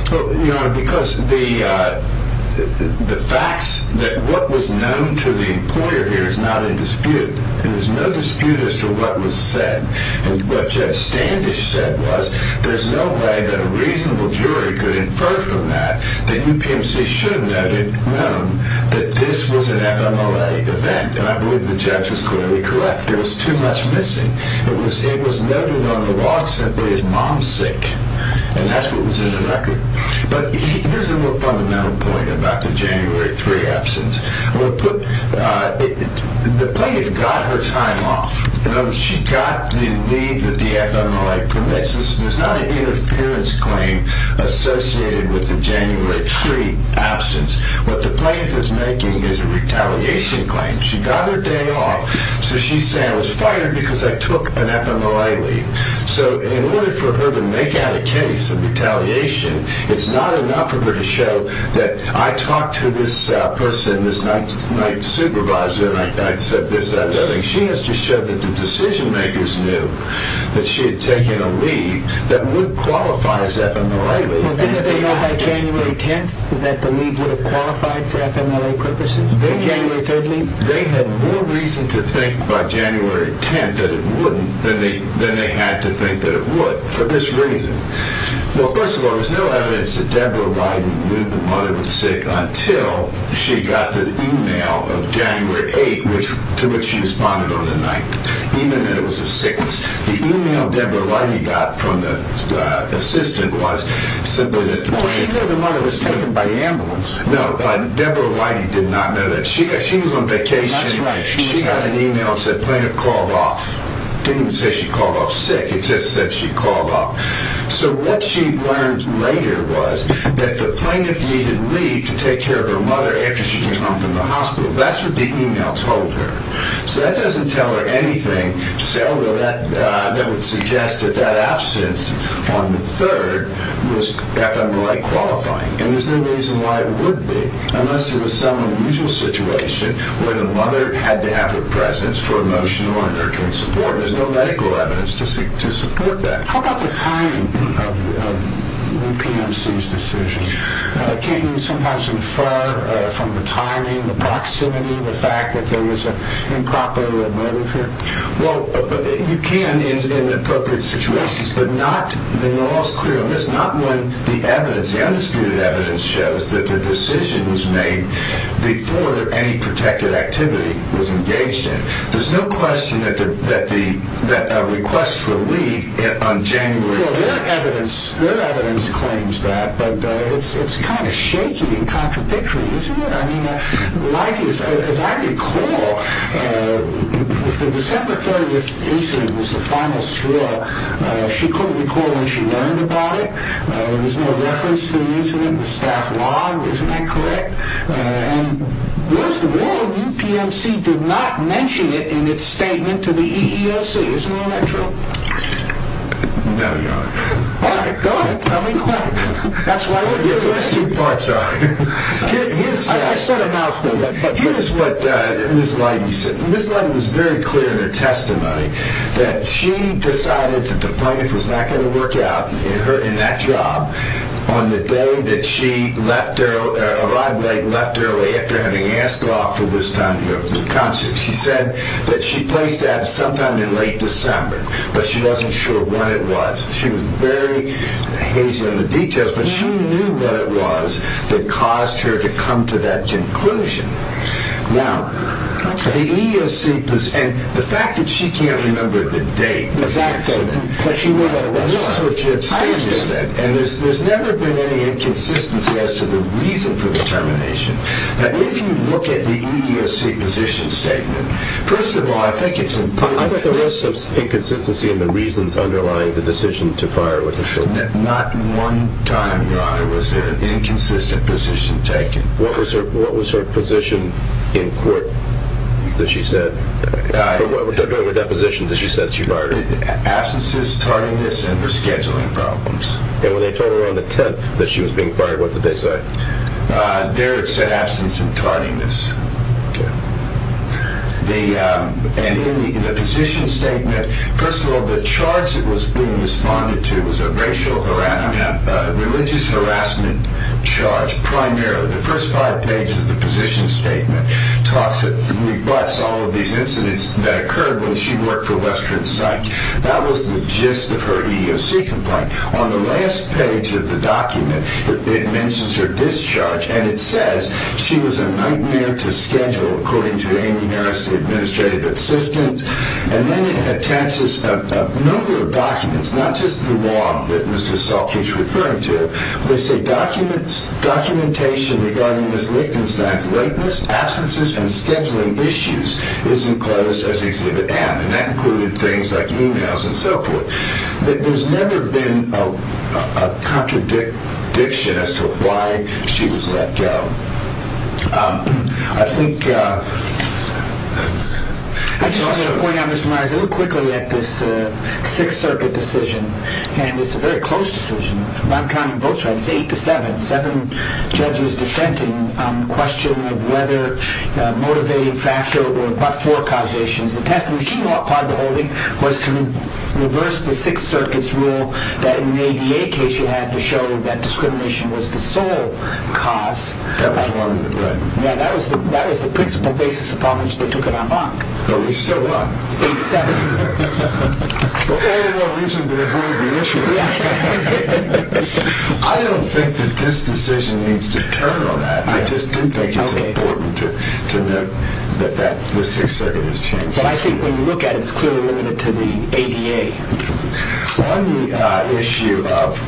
Because the facts that what was known to the employer there is not in dispute. There's no dispute as to what was said. What Jeff Standish said was, there's no way that a reasonable jury could infer from that that you basically should have known that this was an FMLA event. And I believe the judge is clearly correct. There was too much missing. It was noted on the walks that his mom was sick, and that's what was in the record. But there's a more fundamental point about the January 3 absence. The plaintiff got her time off. She got the leave with the FMLA permits. This was not an interference claim associated with the January 3 absence. What the plaintiff is making is a retaliation claim. She got her day off. So she's saying, I was fired because I took an FMLA leave. So in order for her to make out a case of retaliation, it's not enough of her to show that I talked to this person, this night supervisor, she has to show that the decision-makers knew that she had taken a leave that would qualify as FMLA. Didn't they know by January 10 that the leave would have qualified for FMLA purposes? They had more reason to think by January 10 that it wouldn't than they had to think that it would for this reason. Well, first of all, there's no evidence that Deborah Whiting knew the mother was sick until she got the e-mail of January 8 to which she responded on the night, even if it was a sickness. The e-mail Deborah Whiting got from the assistant was simply that the mother was taken by ambulance. No, Deborah Whiting did not know that. She was on vacation. She got an e-mail that said plaintiff called off. Didn't even say she called off sick. It just said she called off. So what she learned later was that the plaintiff needed leave to take care of her mother after she was hospitalized. That's what the e-mail told her. So that doesn't tell her anything, although that would suggest that that absence on the 3rd was FMLA qualifying. And there's no reason why it would be, unless it was some unusual situation where the mother had to have a presence for emotional support. There's no medical evidence to support that. How about the timing of the U.N.P.O.C.'s decisions? Can you be somehow so far from the timing, the proximity of the fact that there was an improper medical? Well, you can in appropriate situations, but not, and you're also clear on this, not when the evidence, the undisputed evidence shows that the decision was made before any protected activity was engaged in. There's no question that the request for leave on January 1st. Well, their evidence claims that, but it's kind of shaky and contradictory, isn't it? I mean, life is, as I recall, when the Secretary was in the Sopranos trial, she couldn't recall when she learned about it. There was no reference to the reasoning, the staff log was incorrect, and most of all, the U.N.P.O.C. did not mention it in its statement to the EEOC. There's no other truth. No, Your Honor. All right. Go ahead. Tell me quick. That's why we're here. The rest of the parts are here. Here's what Ms. Leiby said. Ms. Leiby was very clear in her testimony that she decided the deployment was not going to work out, and in that job, on the day that she left, arrived late and left early after having asked her off for this time to go to the concert, she said that she planned to have it sometime in late December, but she wasn't sure when it was. She was very hazy on the details, but she knew when it was that caused her to come to that conclusion. Now, the EEOC was, and the fact that she can't remember the date. Exactly. But she knew that it wasn't her decision. And there's never been any inconsistency as to the reason for the termination. Now, if you look at the EEOC position statement, first of all, I think it's important. I think there was some inconsistency in the reasons underlying the decision to fire her. And that not one time, Your Honor, was an inconsistent position taken. What was her position in court that she said? What was her position that she said she fired her? Absences, tardiness, and rescheduling problems. And when they told her on the 10th that she was being fired, what did they say? They said absence and tardiness. And in the position statement, first of all, the charge that was being responded to was a religious harassment charge, primarily. The first five pages of the position statement request all of these incidents that occurred when she worked for Western Psych. That was the gist of her EEOC complaint. On the last page of the document, it mentions her discharge, and it says she was a nightmare to schedule, according to Amy Harris, the administrative assistant. And then it attaches a number of documents, not just the one that Mr. Salky is referring to. They say documentation regarding Ms. Lincoln's neglect, lateness, absences, and scheduling issues is enclosed as Exhibit M. And that included things like Moon House and so forth. But there's never been a contradiction as to why she was let go. I think I just want to point out, Mr. Myers, real quickly that this is a Sixth Circuit decision, and it's a very close decision. My time in both tribes is eight to seven. Seven judges dissented on the question of whether motivated fracture or but-for causation. The testimony she brought prior to holding was to reverse the Sixth Circuit's rule that in the ADA case you had to show that discrimination was the sole cause of harm. Yeah, that was the principal basis upon which they took her on bond. But we're still up, eight to seven. I don't think that this decision needs to turn on that. I just do think it's important to note that that was Sixth Circuit's decision. I think when you look at it, it's clearly limited to the ADA. On the issue of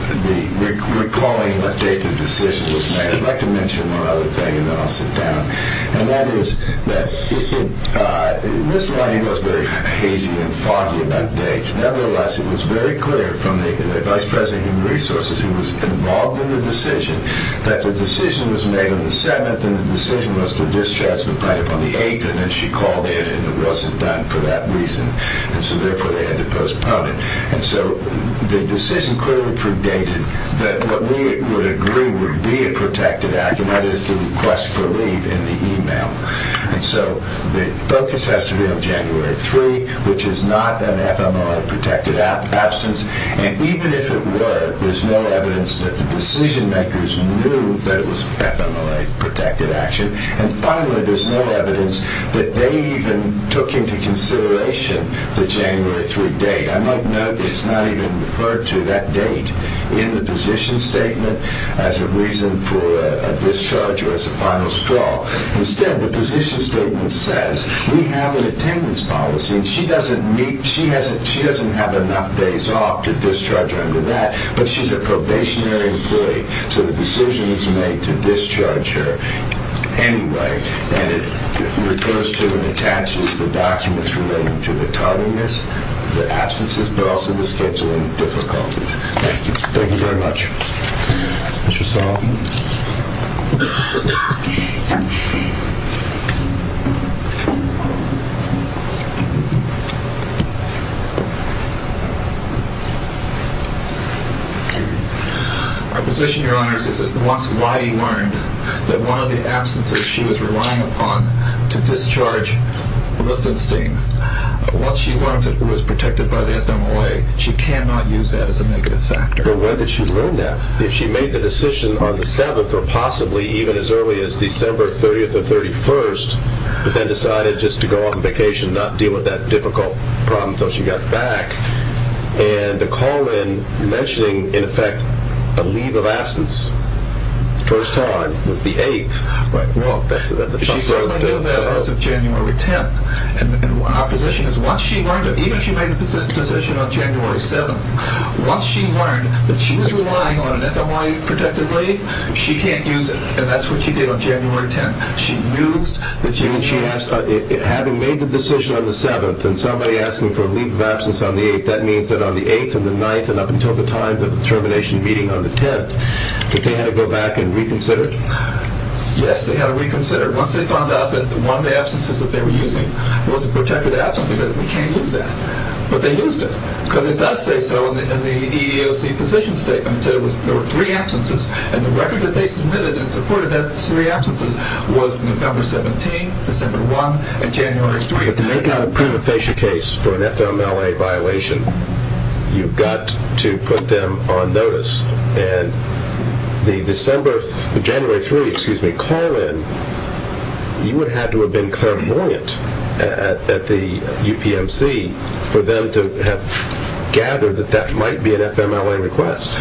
recalling a taken decision, I'd like to mention one other thing, and then I'll sit down. And that was that Mr. Honey was very hazy and foggy that day. Nevertheless, it was very clear from the vice president of resources, who was involved in the decision, that the decision was made on the 7th, and the decision was to discharge the plaintiff on the 8th, and then she called it, and it wasn't done for that reason, and so therefore they had to postpone it. And so the decision clearly predicted that what we would agree would be a protected act as to the request for leave in the email. And so the focus has to be on January 3, which is not an FMLA-protected absence. And even if it were, there's no evidence that the decision-makers knew that it was an FMLA-protected action. And finally, there's no evidence that they even took into consideration the January 3 date. I might note it's not even referred to that date in the position statement as a reason for a discharge or as a final straw. Instead, the position statement says, we have an attendance policy, and she doesn't have enough days off to discharge her under that, but she's a probationary employee, so the decision is made to discharge her anyway, and it refers to the taxes, the documents related to the tolerance, the absence of drugs, and the scheduling difficulties. Thank you. Thank you very much. Our position here on this is that what's why you aren't, that while the absence that she was relying upon to discharge was obscene, while she was protected by the FMLA, she cannot use that as a negative factor. But whether she will now, if she made the decision on the 7th, or possibly even as early as December 30th or 31st, but then decided just to go on vacation and not deal with that difficult problem until she got back, and the call-in mentioning, in effect, a leave of absence the first time was the 8th. Right. Well, she's going to do that as of January 10th, and our position is once she learned, even if she made the decision on January 7th, once she learned that she was relying on an FMLA to protect her leave, she can't use it, and that's what she did on January 10th. She knew that she had to make the decision on the 7th, and somebody asking for a leave of absence on the 8th, that means that on the 8th and the 9th and up until the time of the termination meeting on the 10th, did they have to go back and reconsider it? Yes, they had to reconsider it once they found out that one of the absences that they were using was a protected absence, and that they can't use that. But they used it, because if that's based on the EEOC position statement, there were three absences, and the record that they submitted to support that three absences was on December 17th, December 1st, and January 3rd. If you're going to prove a facial case for an FMLA violation, you've got to put them on notice. And the January 3rd call-in, you would have to have been clairvoyant at the UPMC for them to have gathered that that might be an FMLA request.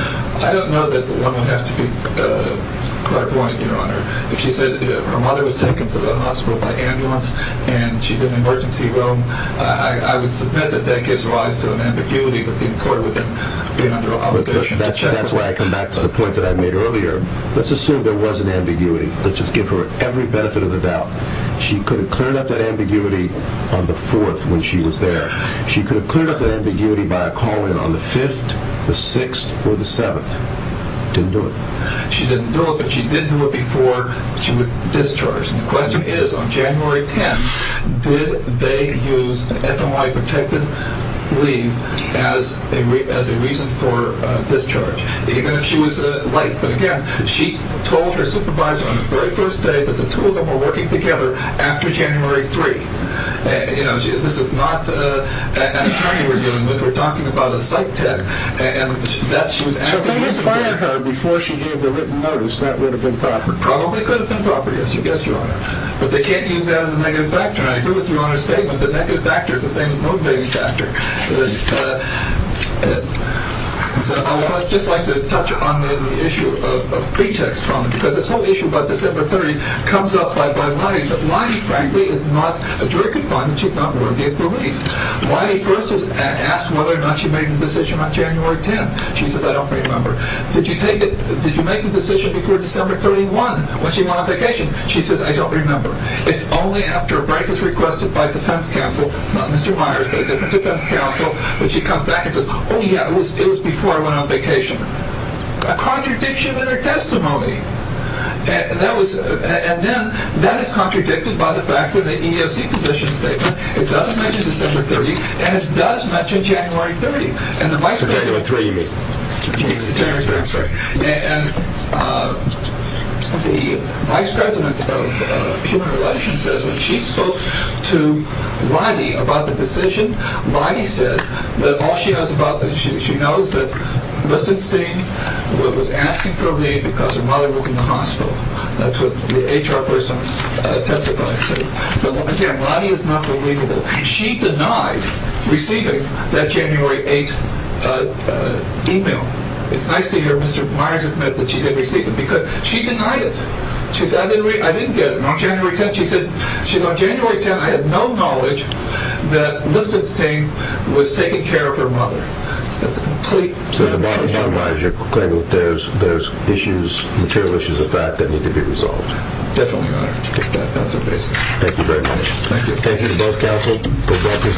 I don't know that the woman asked you that question, Your Honor. She said that her mother was taken to the hospital by ambulance, and she's in the emergency room. I would submit that that gives rise to an ambiguity in court. That's why I come back to the point that I made earlier. Let's assume there was an ambiguity. Let's just give her every benefit of the doubt. She could have cleared up that ambiguity on the 4th when she was there. She could have cleared up that ambiguity by a call-in on the 5th, the 6th, or the 7th. She didn't know. She didn't know, but she didn't know before she was discharged. The question is, on January 10th, did they use FMLA-protected leave as a reason for discharge? Even though she was a wife, she told her supervisor on the very first day that the two of them were working together after January 3rd. You know, this is not an attorney we're dealing with. We're talking about a psych tech. Before she gave the written notice, that would have been proper. It probably could have been proper, I suggest, Your Honor. But they can't even get on the negative factor. I agree with Your Honor's statement. The negative factor is the same as one negative factor. I would just like to touch on the issue of pretext. This whole issue about December 30th comes up by Lani, but Lani, frankly, is not a juror-confined, and she's not worthy of permitting it. Lani first asked whether or not she made the decision on January 10th. She said, I don't remember. Did you make the decision before December 31st when she went on vacation? She said, I don't remember. It's only after a breakfast request by the defense counsel, not Mr. Myers, but the defense counsel, when she comes back and says, oh, yeah, it was before I went on vacation. A contradiction in her testimony. And then that is contradicted by the fact that the EEOC position statement, it does mention December 30th, and it does mention January 30th, and the vice president of human relations says when she spoke to Lani about the decision, Lani said that all she knows about the decision, she knows that the decision was asked internally because of my work in Costco. That's what the HR person said. So, again, Lani is not worthy of it. She denied receiving that January 8th e-mail. I see here Mr. Myers' message. She didn't receive it because she denied it. She said, I didn't get it. On January 10th, she said, on January 10th, I had no knowledge that Melissa Payne was taking care of her mother completely. So, Lani, I'm not sure if there's issues, material issues of that that need to be resolved. Definitely not. Thank you very much. Thank you.